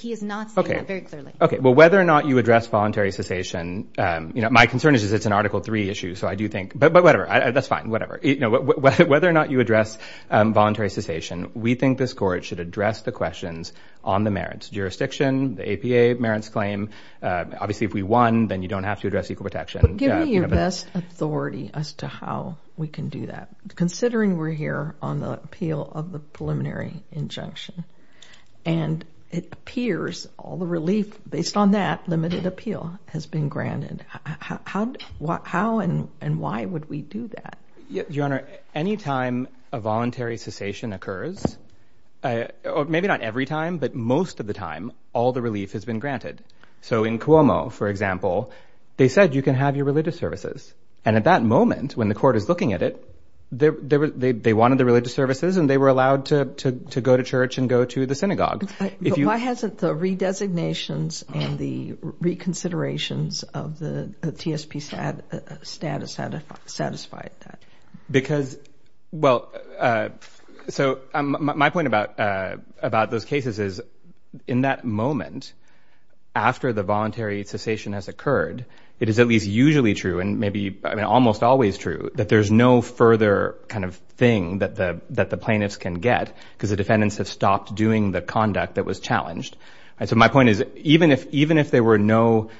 that very clearly. Okay. Well, whether or not you address voluntary cessation, my concern is it's an Article Three issue, so I do think... But whatever, that's fine, whatever. Whether or not you address voluntary cessation, we think this court should address the questions on the merits. Jurisdiction, the APA merits claim. Obviously, if we won, then you don't have to address equal protection. But give me your best authority as to how we can do that, considering we're here on the appeal of the preliminary injunction. And it appears all the relief, based on that limited appeal, has been granted. How and why would we do that? Your Honor, any time a voluntary cessation occurs, maybe not every time, but most of the time, all the relief has been granted. So in Cuomo, for example, they said, you can have your religious services. And at that moment, when the court is looking at it, they wanted the religious services, and they were allowed to go to church and go to the synagogue. But why hasn't the redesignations and the reconsiderations of the TSP status satisfied that? Because... Well, so my point about those cases is, in that moment, after the voluntary cessation has occurred, it is at least usually true, and maybe almost always true, that there's no further thing that the plaintiffs can get, because the defendants have stopped doing the conduct that was challenged. And so my point is, even if there were no...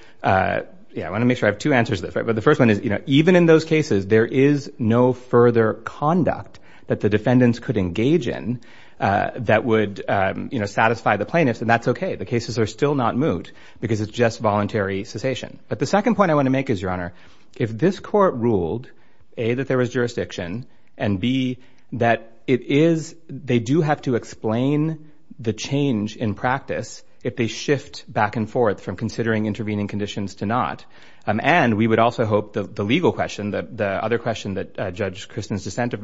Yeah, I wanna make sure I have two answers to this. But the first one is, even in those cases, there is no further conduct that the defendants could engage in that would satisfy the plaintiffs, and that's okay. The cases are still not moved, because it's just voluntary cessation. But the second point I wanna make is, Your Honor, if this court ruled, A, that there was jurisdiction, and B, that it is... They do have to explain the change in practice if they shift back and forth from considering intervening conditions to not. And we would also hope the legal question, the other question that Judge Kristen's dissent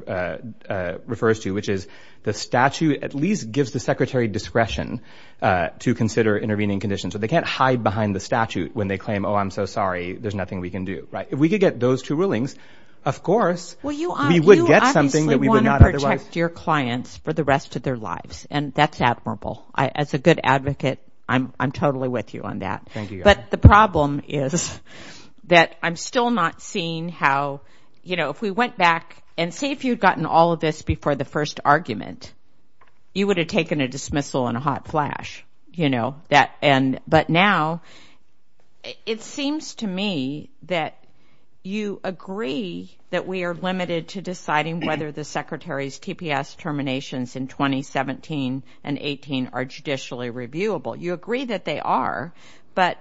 refers to, which is, the statute at least gives the Secretary discretion to consider intervening conditions. So they can't hide behind the statute when they claim, Oh, I'm so sorry, there's nothing we can do. Right? If we could get those two rulings, of course, we would get something that we would not otherwise... Well, you obviously wanna protect your clients for the rest of their lives, and that's admirable. As a good advocate, I'm totally with you on that. Thank you, Your Honor. But the problem is that I'm still not seeing how... If we went back, and say if you'd gotten all of this before the first argument, you would have taken a dismissal in a hot court. It seems to me that you agree that we are limited to deciding whether the Secretary's TPS terminations in 2017 and 18 are judicially reviewable. You agree that they are, but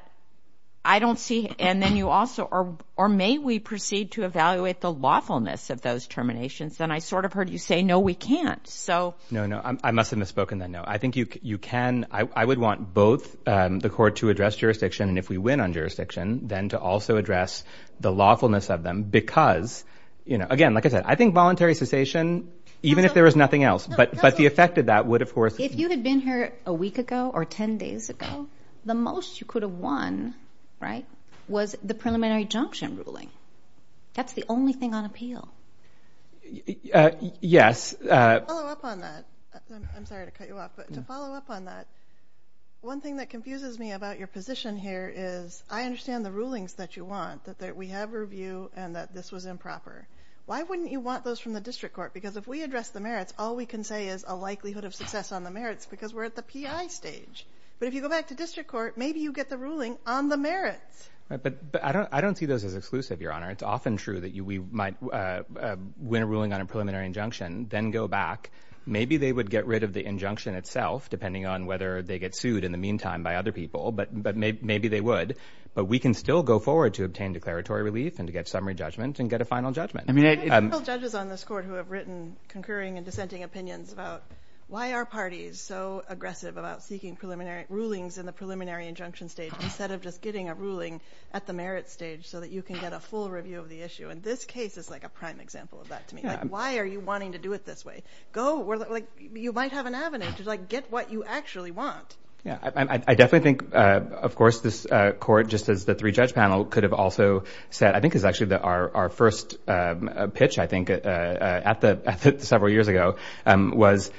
I don't see... And then you also... Or may we proceed to evaluate the lawfulness of those terminations? Then I sort of heard you say, No, we can't. So... No, no. I must have misspoken then, no. I think you can... I would want both the court to address jurisdiction, and if we win on jurisdiction, then to also address the lawfulness of them because... Again, like I said, I think voluntary cessation, even if there was nothing else, but the effect of that would, of course... If you had been here a week ago or 10 days ago, the most you could have won was the preliminary junction ruling. That's the only thing on appeal. Yes. To follow up on that... I'm sorry to cut you off, but to follow up on that, one thing that confuses me about your position here is, I understand the rulings that you want, that we have review and that this was improper. Why wouldn't you want those from the district court? Because if we address the merits, all we can say is a likelihood of success on the merits because we're at the PI stage. But if you go back to district court, maybe you get the ruling on the merits. But I don't see those as exclusive, Your Honor. It's often true that we might win a ruling on a preliminary injunction, then go back. Maybe they would get rid of the injunction itself, depending on whether they get sued in the meantime by other people, but maybe they would. But we can still go forward to obtain declaratory relief and to get summary judgment and get a final judgment. I mean... Judges on this court who have written concurring and dissenting opinions about, why are parties so aggressive about seeking rulings in the preliminary injunction stage instead of just getting a ruling at the merits stage so that you can get a full review of the issue? And this case is like a prime example of that to me. Why are you wanting to do it this way? Go... You might have an avenue to get what you actually want. Yeah. I definitely think, of course, this court, just as the three judge panel, could have also said... I think it was actually our first pitch, I think, at the... Several years ago, was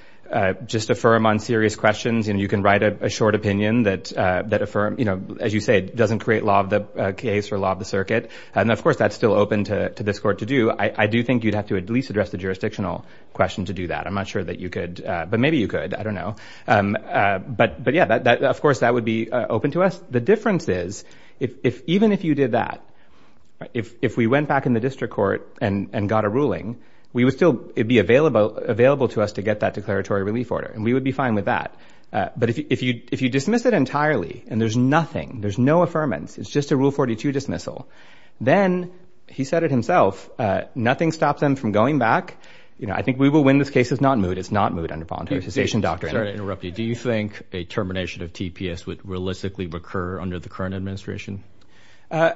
just affirm on serious questions. And you can write a short opinion that affirm... As you say, it doesn't create law of the case or law of the circuit. And of course, that's still open to this court to do. I do think you'd have to at least address the jurisdictional question to do that. I'm not sure that you could, but maybe you could, I don't know. But yeah, of course, that would be open to us. The difference is, even if you did that, if we went back in the district court and got a ruling, we would still... It'd be available to us to get that declaratory relief order, and we would be fine with that. But if you dismiss it entirely and there's nothing, there's no affirmance, it's just a Rule 42 dismissal. Then, he said it himself, nothing stops them from going back. I think we will win this case. It's not moot. It's not moot under voluntary cessation doctrine. Sorry to interrupt you. Do you think a termination of TPS would realistically recur under the current administration? I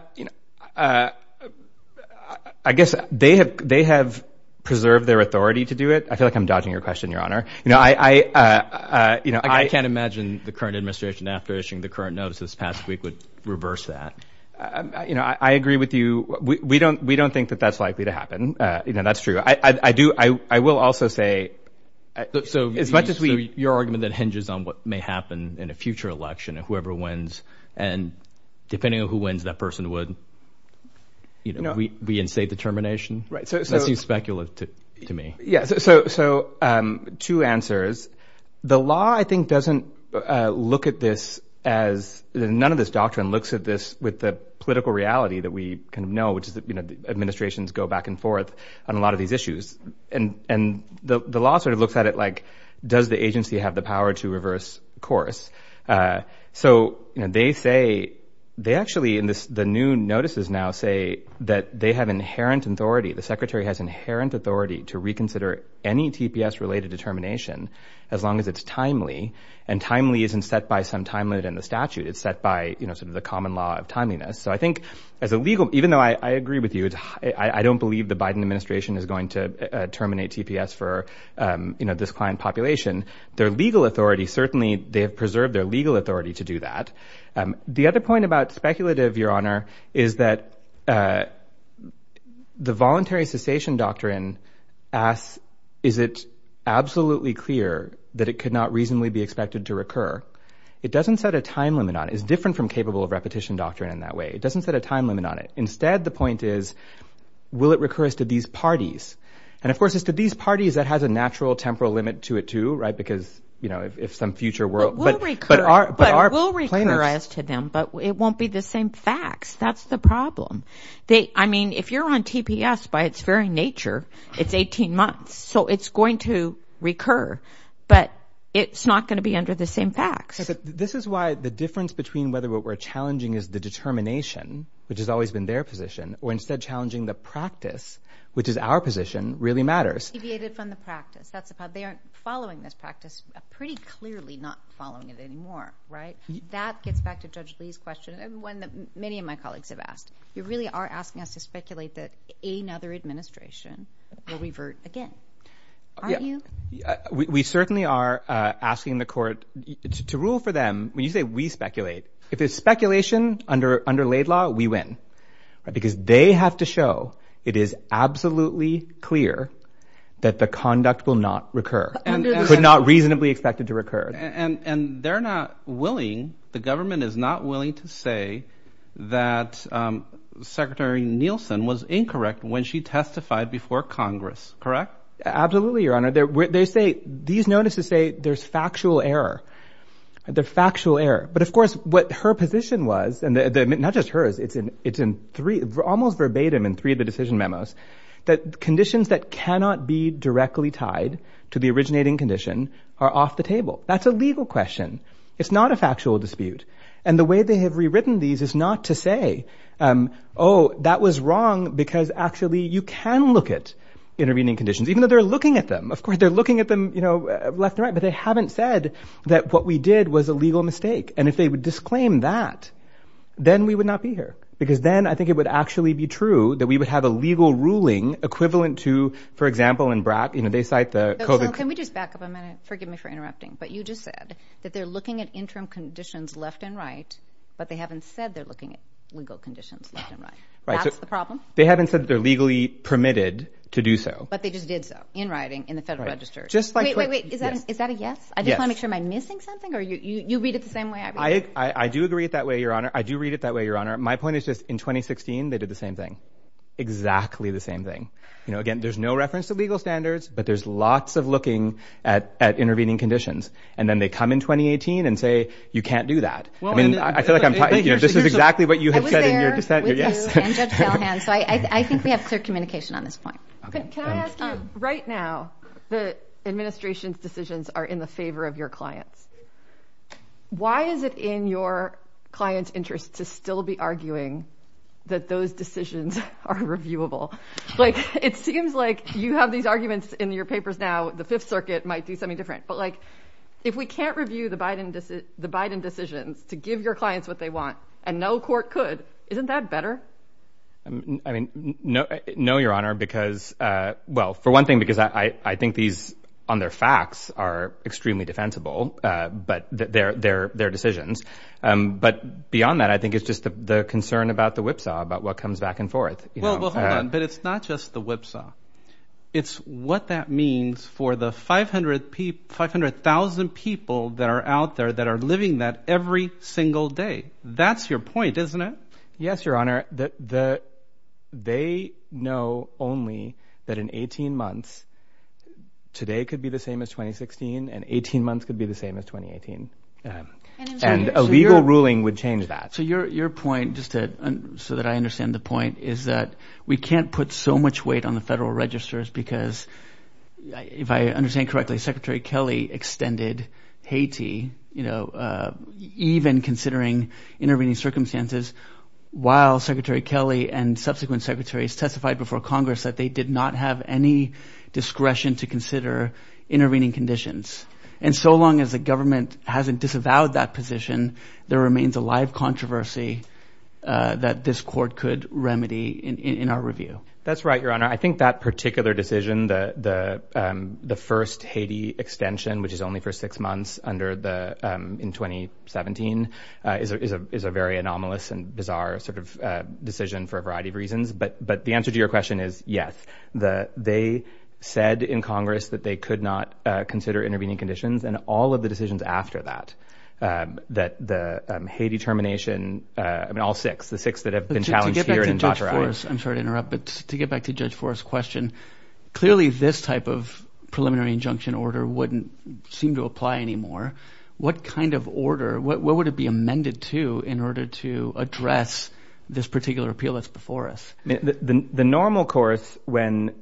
guess they have preserved their authority to do it. I feel like I'm dodging your question, Your Honor. I can't imagine the current administration after issuing the current notice this past week would reverse that. I agree with you. We don't think that that's likely to happen. That's true. I will also say... So as much as we... So your argument that hinges on what may happen in a future election and whoever wins, and depending on who wins, that person would be in state determination? Right. So... That seems speculative to me. Yeah. So two answers. The law, I think, doesn't look at this as... None of this doctrine looks at this with the political reality that we know, which is that administrations go back and forth on a lot of these issues. And the law looks at it like, does the agency have the power to reverse course? So they say... They actually, in the new notices now, say that they have inherent authority. The Secretary has inherent authority to reconsider any TPS related determination, as long as it's timely. And timely isn't set by some time limit in the statute, it's set by the common law of timeliness. So I think as a legal... Even though I agree with you, I don't believe the Biden administration is going to terminate TPS for this client population. Their legal authority, certainly, they have preserved their legal authority to do that. The other point about speculative, Your Lordship, is it absolutely clear that it could not reasonably be expected to recur? It doesn't set a time limit on it. It's different from capable of repetition doctrine in that way. It doesn't set a time limit on it. Instead, the point is, will it recur as to these parties? And of course, as to these parties, that has a natural temporal limit to it too, right? Because if some future world... But will recur as to them, but it won't be the same facts. That's the problem. I mean, if you're on TPS by its very nature, it's 18 months, so it's going to recur, but it's not gonna be under the same facts. This is why the difference between whether what we're challenging is the determination, which has always been their position, or instead challenging the practice, which is our position, really matters. Deviated from the practice, that's the problem. They aren't following this practice, pretty clearly not following it anymore, right? That gets back to Judge Lee's question, one that many of my colleagues have asked. You really are asking us to speculate that another administration will revert again, aren't you? We certainly are asking the court to rule for them. When you say we speculate, if it's speculation under laid law, we win, because they have to show it is absolutely clear that the conduct will not recur, could not reasonably expect it to recur. And they're not willing, the government is not willing to say that Secretary Nielsen was incorrect when she testified before Congress, correct? Absolutely, Your Honor. These notices say there's factual error, the factual error. But of course, what her position was, and not just hers, it's in almost verbatim in three of the decision memos, that conditions that cannot be directly tied to the originating condition are off the table. That's a legal question. It's not a factual dispute. And the way they have rewritten these is not to say, oh, that was wrong, because actually you can look at intervening conditions, even though they're looking at them. Of course, they're looking at them left and right, but they haven't said that what we did was a legal mistake. And if they would disclaim that, then we would not be here, because then I think it would actually be true that we would have a legal ruling equivalent to, for example, in BRAC, they cite the COVID... So, Sean, can we just back up a minute? Forgive me for interrupting, but you just said that they're looking at interim conditions left and right, but they haven't said they're looking at legal conditions left and right. That's the problem? They haven't said that they're legally permitted to do so. But they just did so, in writing, in the Federal Register. Wait, wait, wait. Is that a yes? Yes. I just wanna make sure. Am I missing something, or you read it the same way I read it? I do agree it that way, Your Honor. I do read it that way, Your Honor. My point is just, in 2016, they did the same thing, exactly the same thing. Again, there's no reference to legal standards, but there's lots of looking at intervening conditions. And then they come in 2018 and say, you can't do that. I feel like I'm... This is exactly what you had said in your dissent. I was there with you and Judge Valhan, so I think we have clear communication on this point. Okay. Thank you. Can I ask you, right now, the administration's decisions are in the favor of your clients. Why is it in your client's interest to still be arguing that those decisions are reviewable? It seems like you have these arguments in your papers now, the Fifth Circuit might do something different. But if we can't review the Biden decisions to give your clients what they want, and no court could, isn't that better? I mean, no, Your Honor, because... Well, for one thing, because I think these, on their facts, are extremely defensible, but their decisions. But beyond that, I think it's just the concern about the whipsaw, about what comes back and forth. Well, hold on. But it's not just the whipsaw. It's what that means for the 500,000 people that are out there that are living that every single day. That's your point, isn't it? Yes, Your Honor. They know only that in 18 months, today could be the same as 2016, and 18 months could be the same as 2018. And a legal ruling would change that. So your point, just so that I understand the point, is that we can't put so much weight on the federal registers because, if I understand correctly, Secretary Kelly extended Haiti, even considering intervening circumstances, while Secretary Kelly and subsequent secretaries testified before Congress that they did not have any discretion to consider intervening conditions. And so long as the government hasn't disavowed that position, there remains a live controversy that this court could remedy in our review. That's right, Your Honor. I think that particular decision, the first Haiti extension, which is only for six months in 2017, is a very anomalous and bizarre decision for a variety of reasons. But the answer to your question is yes. They said in Congress that they could not consider intervening conditions and all of the decisions after that, that the Haiti termination, I mean, all six, the six that have been challenged here and in Qatar... To get back to Judge Forrest, I'm sorry to interrupt, but to get back to Judge Forrest's question, clearly this type of preliminary injunction order wouldn't seem to apply anymore. What kind of order, what would it be amended to in order to address this particular appeal that's before us? The normal course, when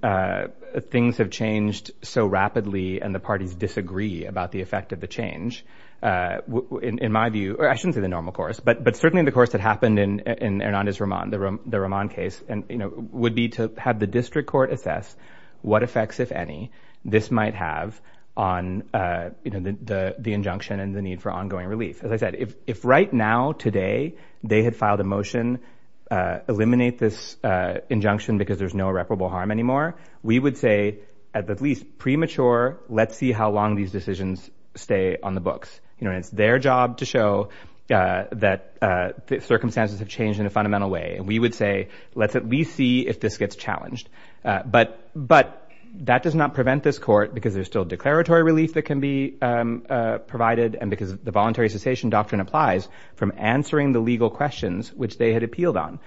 things have changed so rapidly and the parties disagree about the effect of the change, in my view... I shouldn't say the normal course, but certainly the course that happened in Hernandez-Ramon, the Ramon case, and would be to have the district court assess what effects, if any, this might have on the injunction and the need for ongoing relief. As I said, if right now, today, they had filed a motion, eliminate this injunction because there's no irreparable harm anymore, we would say, at least premature, let's see how long these decisions stay on the books. It's their job to show that the circumstances have changed in a fundamental way. We would say, let's at least see if this gets challenged. But that does not prevent this court, because there's still declaratory relief that can be provided and because the voluntary cessation doctrine applies from answering the legal questions which they had appealed on.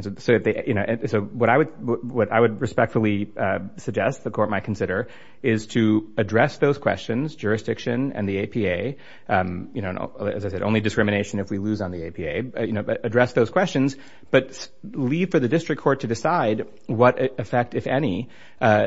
What I would respectfully suggest the court might consider is to address those questions, jurisdiction and the APA. As I said, only discrimination if we lose on the APA. Address those questions, but leave for the district court to decide what effect, if any,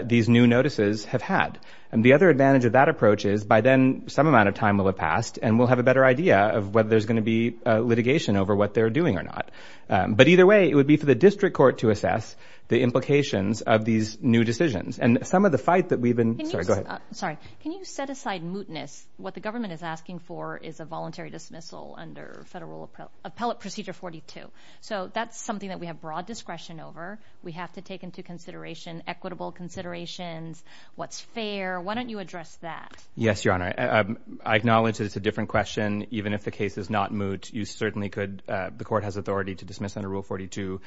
these new notices have had. The other advantage of that approach is, by then, some amount of time will have passed and we'll have a better idea of whether there's gonna be litigation over what they're doing or not. But either way, it would be for the district court to assess the implications of these new decisions. And some of the fight that we've been... Sorry, go ahead. Sorry. Can you set aside mootness? What the government is asking for is a voluntary dismissal under Federal Appellate Procedure 42. So that's something that we have broad discretion over. We have to take into consideration equitable considerations, what's fair. Why don't you address that? Yes, Your Honor. I acknowledge that it's a different question. Even if the case is not moot, you certainly could... The court has authority to dismiss under Rule 42.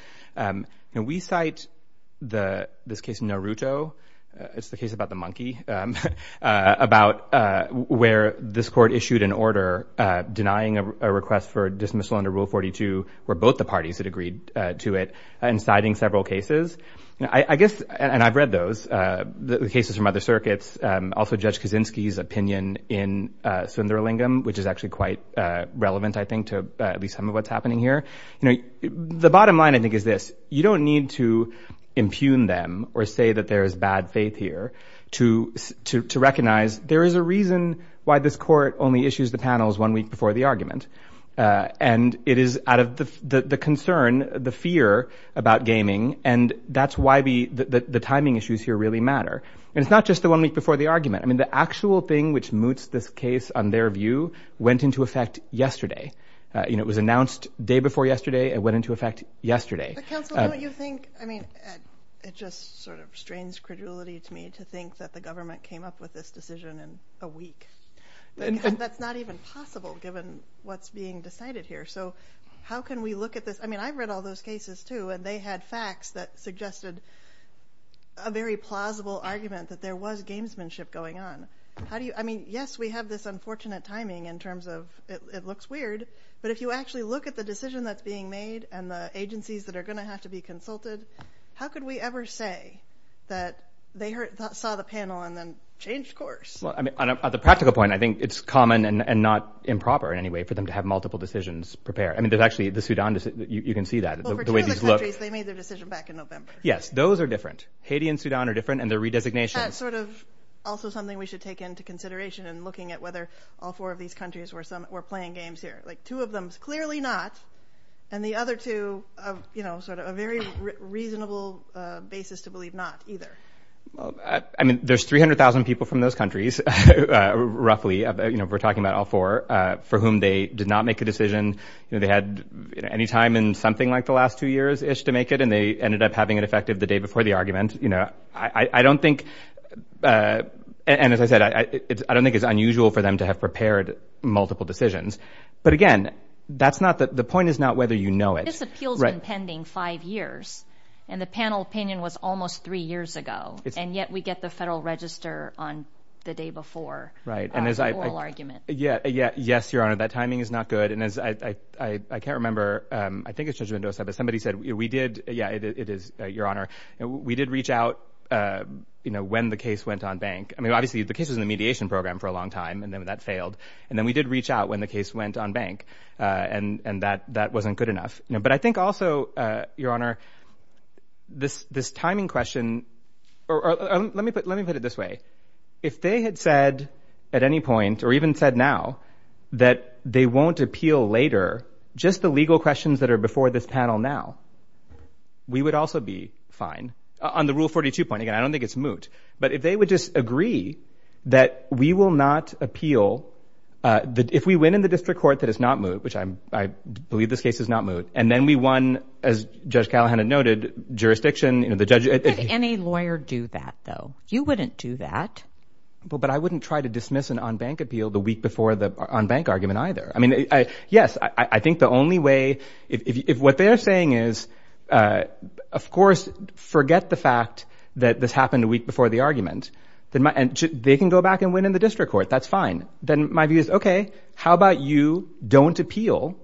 We cite this case in Naruto, it's the case about the monkey, about where this court issued an order denying a request for dismissal under Rule 42, where both the parties had agreed to it, and citing several cases. I guess, and I've read those, the cases from other circuits, also Judge Kaczynski's opinion in Sunderlingham, which is actually quite relevant, I think, to at least some of what's happening here. The bottom line, I think, is this, you don't need to impugn them or say that there is bad faith here to recognize there is a reason why this court only issues the panels one week before the argument. And it is out of the concern, the fear about gaming, and that's why the timing issues here really matter. And it's not just the one week before the argument. The actual thing which moots this case, on their view, went into effect yesterday. It was announced day before yesterday, it went into effect yesterday. But counsel, don't you think... It just sort of strains credulity to me to think that the government came up with this decision in a week. That's not even possible, given what's being decided here. So how can we look at this? I've read all those cases too, and they had facts that suggested a very plausible argument that there was gamesmanship going on. Yes, we have this unfortunate timing in terms of it looks weird, but if you actually look at the decision that's being made and the agencies that are gonna have to be consulted, how could we ever say that they saw the panel and then changed course? Well, at the practical point, I think it's common and not improper in any way for them to have multiple decisions prepared. There's actually the Sudan... You can see that, the way these look. Well, for two of the countries, they made their decision back in November. Yes, those are different. Haiti and Sudan are different, and their redesignation... That's sort of also something we should take into consideration in looking at whether all four of these countries were playing games here. Two of them, clearly not, and the other two, a very reasonable basis to believe not either. I mean, there's 300,000 people from those countries, roughly, we're talking about all four, for whom they did not make a decision like the last two years-ish to make it, and they ended up having it effective the day before the argument. And as I said, I don't think it's unusual for them to have prepared multiple decisions. But again, the point is not whether you know it. This appeal's been pending five years, and the panel opinion was almost three years ago, and yet we get the federal register on the day before the oral argument. Yes, Your Honor, that timing is not good. And as I can't remember, I think it's Judge Mendoza, but somebody said, we did... Yeah, it is, Your Honor. We did reach out when the case went on bank. I mean, obviously, the case was in the mediation program for a long time, and then that failed. And then we did reach out when the case went on bank, and that wasn't good enough. But I think also, Your Honor, this timing question... Or let me put it this way. If they had said at any point, or even said now, that they won't appeal later, just the legal questions that are before this panel now, we would also be fine. On the Rule 42 point, again, I don't think it's moot. But if they would just agree that we will not appeal... If we win in the district court, that is not moot, which I believe this case is not moot. And then we won, as Judge Callahan had noted, jurisdiction... Any lawyer do that, though. You wouldn't do that. But I wouldn't try to dismiss an on bank appeal the week before the on bank argument either. Yes, I think the only way... If what they're saying is, of course, forget the fact that this happened a week before the argument, and they can go back and win in the district court, that's fine. Then my view is, okay, how about you don't appeal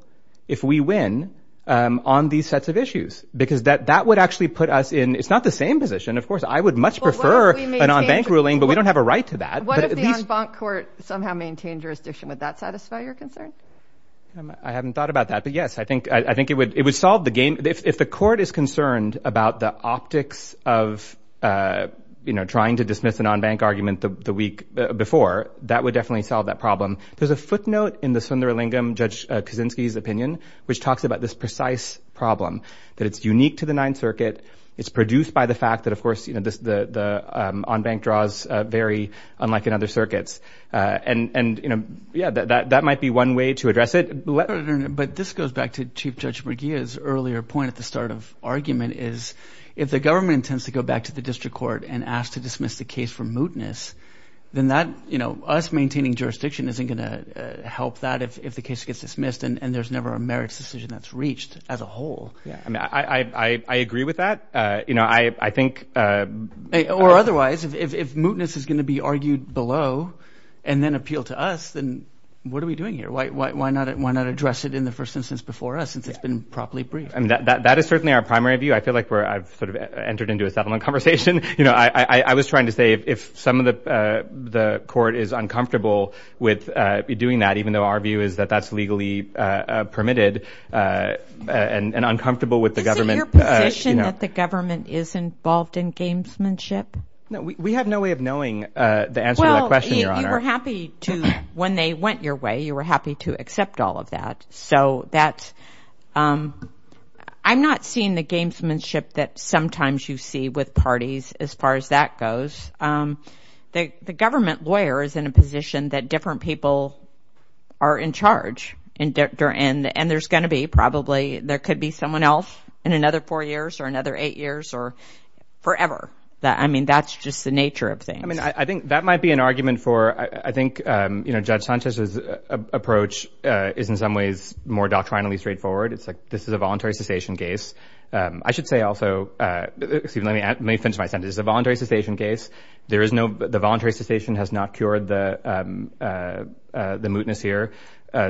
if we win on these sets of issues? Because that would actually put us in... It's not the same position, of course. I would much prefer an on bank ruling, but we don't have a bank court somehow maintain jurisdiction. Would that satisfy your concern? I haven't thought about that, but yes, I think it would solve the game. If the court is concerned about the optics of trying to dismiss an on bank argument the week before, that would definitely solve that problem. There's a footnote in the Sundaralingam Judge Kaczynski's opinion, which talks about this precise problem, that it's unique to the Ninth Circuit. It's produced by the fact that, of course, the on bank draws vary, unlike in other circuits. That might be one way to address it. But this goes back to Chief Judge McGeeh's earlier point at the start of argument, is if the government intends to go back to the district court and ask to dismiss the case for mootness, then us maintaining jurisdiction isn't gonna help that if the case gets dismissed, and there's never a merits decision that's reached as a whole. I agree with that. I think... Or otherwise, if mootness is gonna be argued below and then appeal to us, then what are we doing here? Why not address it in the first instance before us, since it's been properly briefed? That is certainly our primary view. I feel like I've sort of entered into a settlement conversation. I was trying to say if some of the court is uncomfortable with doing that, even though our view is that that's legally permitted and uncomfortable with the government... Is it your position that the government is involved in gamesmanship? No, we have no way of knowing the answer to that question, Your Honor. Well, you were happy to... When they went your way, you were happy to accept all of that. I'm not seeing the gamesmanship that sometimes you see with parties, as far as that goes. The government lawyer is in a position that different people are in charge, and there's gonna be probably... There could be someone else in another four years or another eight years or forever. That's just the nature of things. I think that might be an argument for... I think Judge Sanchez's approach is, in some ways, more doctrinally straightforward. It's like, this is a voluntary cessation case. I should say also... Excuse me, let me finish my sentence. It's a voluntary cessation case. There is no... The voluntary cessation has not cured the mootness here,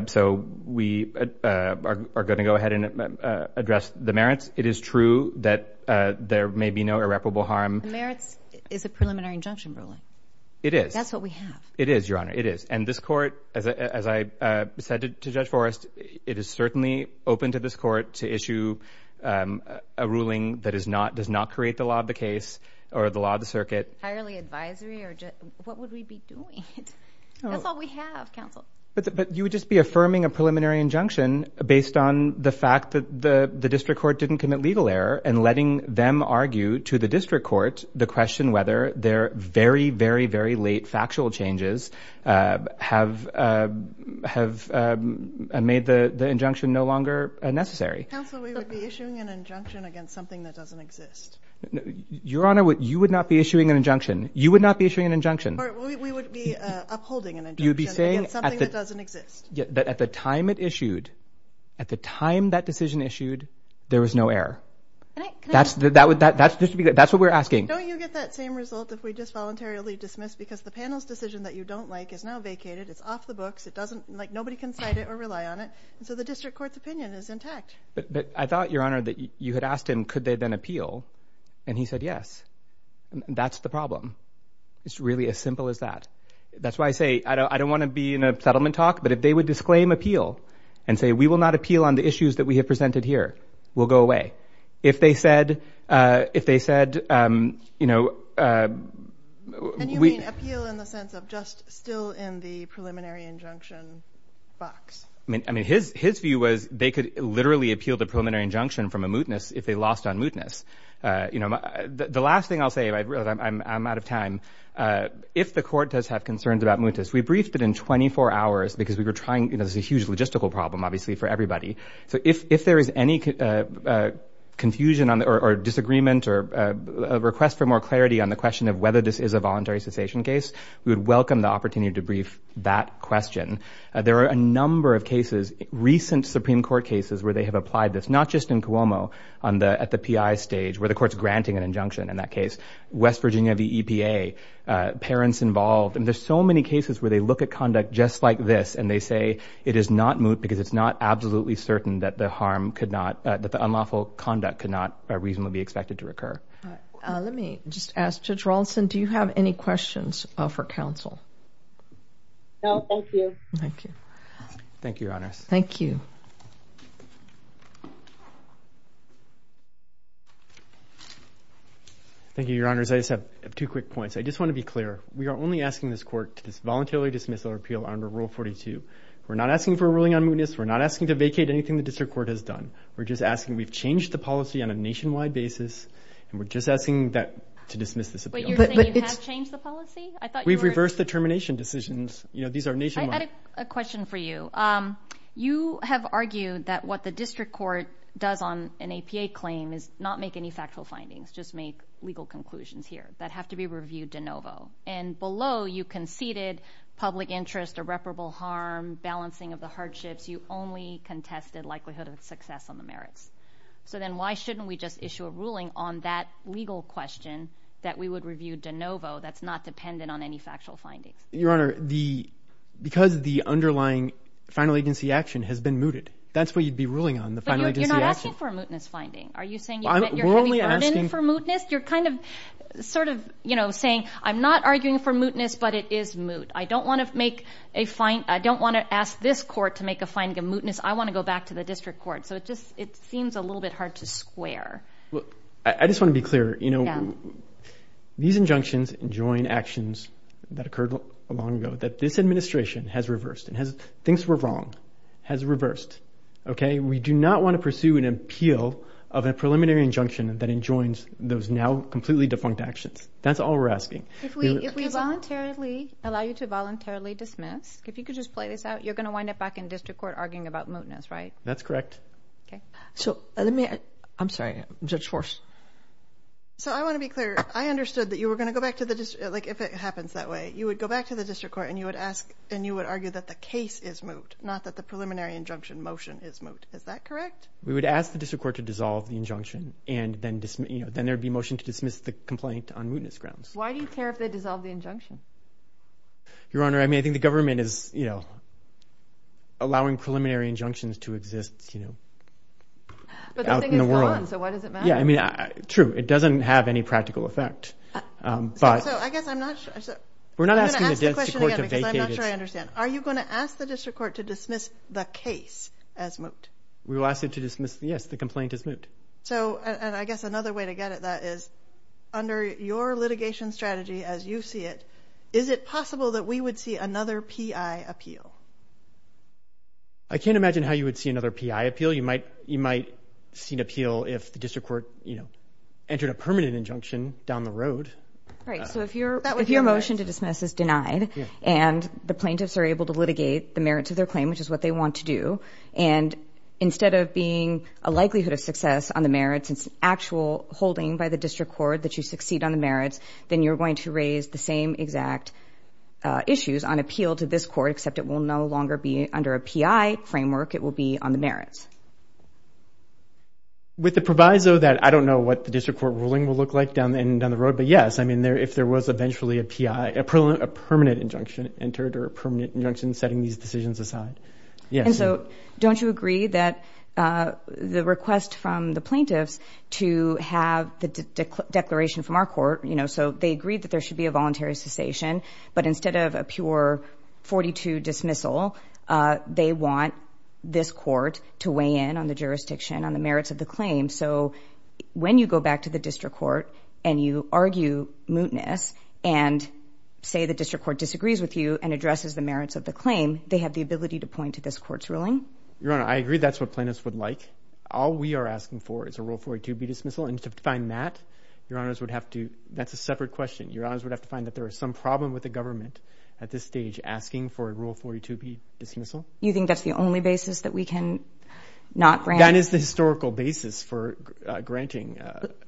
so we are gonna go ahead and address the merits. It is true that there may be no irreparable harm. Merits is a preliminary injunction ruling. It is. That's what we have. It is, Your Honor. It is. And this court, as I said to Judge Forrest, it is certainly open to this court to issue a ruling that does not create the law of the case or the law of the circuit. Hirely advisory or... What would we be doing? That's all we have, counsel. But you would just be affirming a preliminary injunction based on the fact that the district court didn't commit legal error and letting them argue to the district court the question whether their very, very, very late factual changes have made the injunction no longer necessary. Counsel, we would be issuing an injunction against something that doesn't exist. Your Honor, you would not be issuing an injunction. You would not be issuing an injunction. Or we would be upholding an injunction against something that doesn't exist. You'd be saying that at the time it issued, at the time that decision issued, there was no error. Can I... That's what we're asking. Don't you get that same result if we just voluntarily dismiss because the panel's decision that you don't like is now vacated, it's off the books, it doesn't... Nobody can cite it or rely on it, and so the district court's opinion is intact. But I thought, Your Honor, that you had asked him, could they then appeal? And he said, yes. And that's the problem. It's really as simple as that. That's why I say, I don't wanna be in a settlement talk, but if they would disclaim appeal and say, we will not appeal on the issues that we have presented here, we'll go away. If they said... If they said... And you mean appeal in the sense of just still in the preliminary injunction box? I mean, his view was they could literally appeal the preliminary injunction from a mootness if they lost on mootness. The last thing I'll say, I'm out of time. If the court does have concerns about mootness, we briefed it in 24 hours because we were trying... There's a huge logistical problem, obviously, for everybody. So if there is any confusion or disagreement or a request for more clarity on the question of whether this is a voluntary cessation case, we would welcome the opportunity to brief that question. There are a number of cases, recent Supreme Court cases, where they have applied this, not just in Cuomo, at the PI stage, where the court's granting an injunction in that case. West Virginia, the EPA, parents involved. And there's so many cases where they look at conduct just like this and they say, it is not moot because it's not absolutely certain that the harm could not... That the unlawful conduct could not reasonably be expected to recur. Let me just ask Judge Rawlinson, do you have any questions for counsel? No, thank you. Thank you. Thank you, Your Honors. Thank you. Thank you, Your Honors. I just have two quick points. I just wanna be clear. We are only asking this court to voluntarily dismiss our appeal under Rule 42. We're not asking for a ruling on mootness. We're not asking to vacate anything the district court has done. We're just asking... We've changed the policy on a nationwide basis, and we're just asking that... To dismiss this appeal. But you're saying you have changed the policy? I thought you were... We've reversed the termination decisions. These are nationwide... I had a question for you. You have argued that what the district court does on an APA claim is not make any factual findings, just make legal conclusions here that have to be reviewed de novo. And below, you conceded public interest, irreparable harm, balancing of the hardships. You only contested likelihood of success on the merits. So then why shouldn't we just issue a ruling on that legal question that we would review de novo that's not dependent on any factual findings? Your Honor, the... Because the underlying final agency action has been mooted. That's what you'd be ruling on, the final agency action. But you're not asking for a mootness finding. Are you saying you're having burden for mootness? You're kind of sort of saying, I'm not arguing for mootness, but it is moot. I don't wanna make a fine... I don't wanna ask this court to make a finding of mootness. I wanna go back to the district court. So it just... It seems a little bit hard to square. Look, I just wanna be clear. These injunctions enjoin actions that occurred a long ago, that this administration has reversed and thinks we're wrong, has reversed. We do not wanna pursue an appeal of a preliminary injunction that enjoins those now completely defunct actions. That's all we're asking. If we voluntarily allow you to voluntarily dismiss, if you could just play this out, you're gonna wind up back in district court arguing about mootness, right? That's correct. So let me... I'm sorry, Judge Fors. So I wanna be clear. I understood that you were gonna go back to the district... Like, if it happens that way, you would go back to the district court and you would ask... And you would argue that the case is moot, not that the preliminary injunction motion is moot. Is that correct? We would ask the district court to dissolve the injunction and then there'd be a motion to dismiss the complaint on mootness grounds. Why do you care if they dissolve the injunction? Your Honor, I mean, I think the government is allowing preliminary injunctions to exist out in the world. But the thing is gone, so what does it matter? Yeah, I mean, true. It doesn't have any practical effect. But... So I guess I'm not... We're not asking the district court to vacate it. I'm not sure I understand. Are you gonna ask the district court to dismiss the case as moot? We will ask it to dismiss... Yes, the complaint is moot. So, and I guess another way to get it, that is, under your litigation strategy as you see it, is it possible that we would see another PI appeal? I can't imagine how you would see another PI appeal. You might see an appeal if the district court entered a permanent injunction down the road. Right, so if your motion to dismiss is denied and the plaintiffs are able to litigate the merits of their claim, which is what they want to do, and instead of being a likelihood of success on the merits, it's an actual holding by the district court that you succeed on the merits, then you're going to raise the same exact issues on appeal to this court, except it will no longer be under a PI framework, it will be on the merits. With the proviso that I don't know what the district court ruling will look like down the road, but yes, I mean, if there was eventually a PI, a permanent injunction entered or a permanent injunction setting these decisions aside. Yes. And so, don't you agree that the request from the plaintiffs to have the declaration from our court, so they agreed that there should be a voluntary cessation, but instead of a pure 42 dismissal, they want this court to weigh in on the jurisdiction, on the merits of the claim, so when you go back to the district court and you argue mootness and say the district court disagrees with you and addresses the merits of the claim, they have the ability to point to this court's ruling? Your honor, I agree that's what plaintiffs would like. All we are asking for is a rule 42B dismissal, and to find that, your honors would have to... That's a separate question. Your honors would have to find that there is some problem with the government at this stage asking for a rule 42B dismissal? You think that's the only basis that we can not grant? That is the historical basis for granting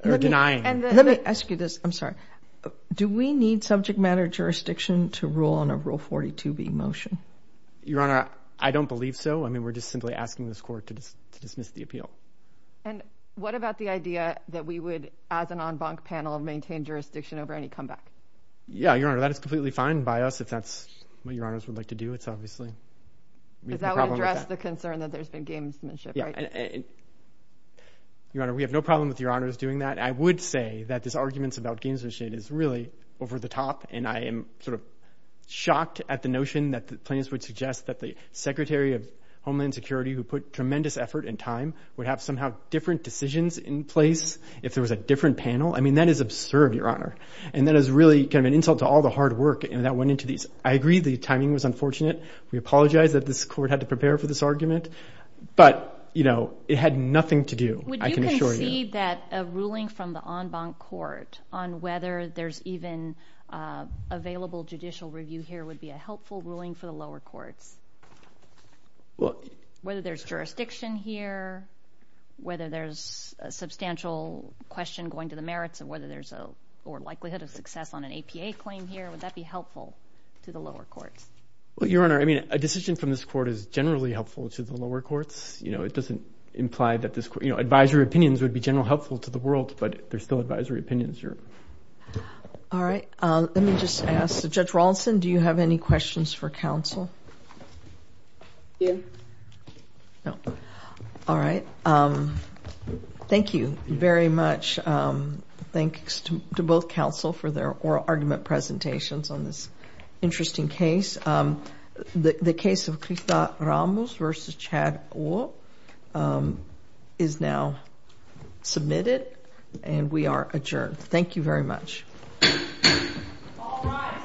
or denying. Let me ask you this, I'm sorry. Do we need subject matter jurisdiction to rule on a rule 42B motion? Your honor, I don't believe so. I mean, we're just simply asking this court to dismiss the appeal. And what about the idea that we would, as an en banc panel, maintain jurisdiction over any comeback? Yeah, your honor, that is completely fine by us, if that's what your honors would like to do. It's obviously... Because that would address the concern that there's been gamesmanship, right? Your honor, we have no problem with your honors doing that. I would say that this arguments about gamesmanship is really over the top, and I am sort of shocked at the notion that the plaintiffs would suggest that the Secretary of Homeland Security, who put tremendous effort and time, would have somehow different decisions in place if there was a different panel. I mean, that is absurd, your honor. And that is really kind of an insult to all the hard work that went into these. I agree, the timing was unfortunate. We apologize that this court had to prepare for this argument, but it had nothing to do, I can assure you. Would you concede that a ruling from the en banc court on whether there's even available judicial review here would be a helpful ruling for the lower courts? Whether there's jurisdiction here, whether there's a substantial question going to the merits of whether there's a... Or likelihood of success on an APA claim here, would that be helpful to the lower courts? Well, your honor, I mean, a decision from this court is generally helpful to the lower courts. It doesn't imply that this... Advisory opinions would be general helpful to the world, but they're still advisory opinions. All right. Let me just ask, Judge Rawlinson, do you have any questions for counsel? Yeah. No. All right. Thank you very much. Thanks to both counsel for their oral argument presentations on this interesting case. The case of Christa Ramos versus Chad Oh is now submitted, and we are adjourned. Thank you very much. All rise.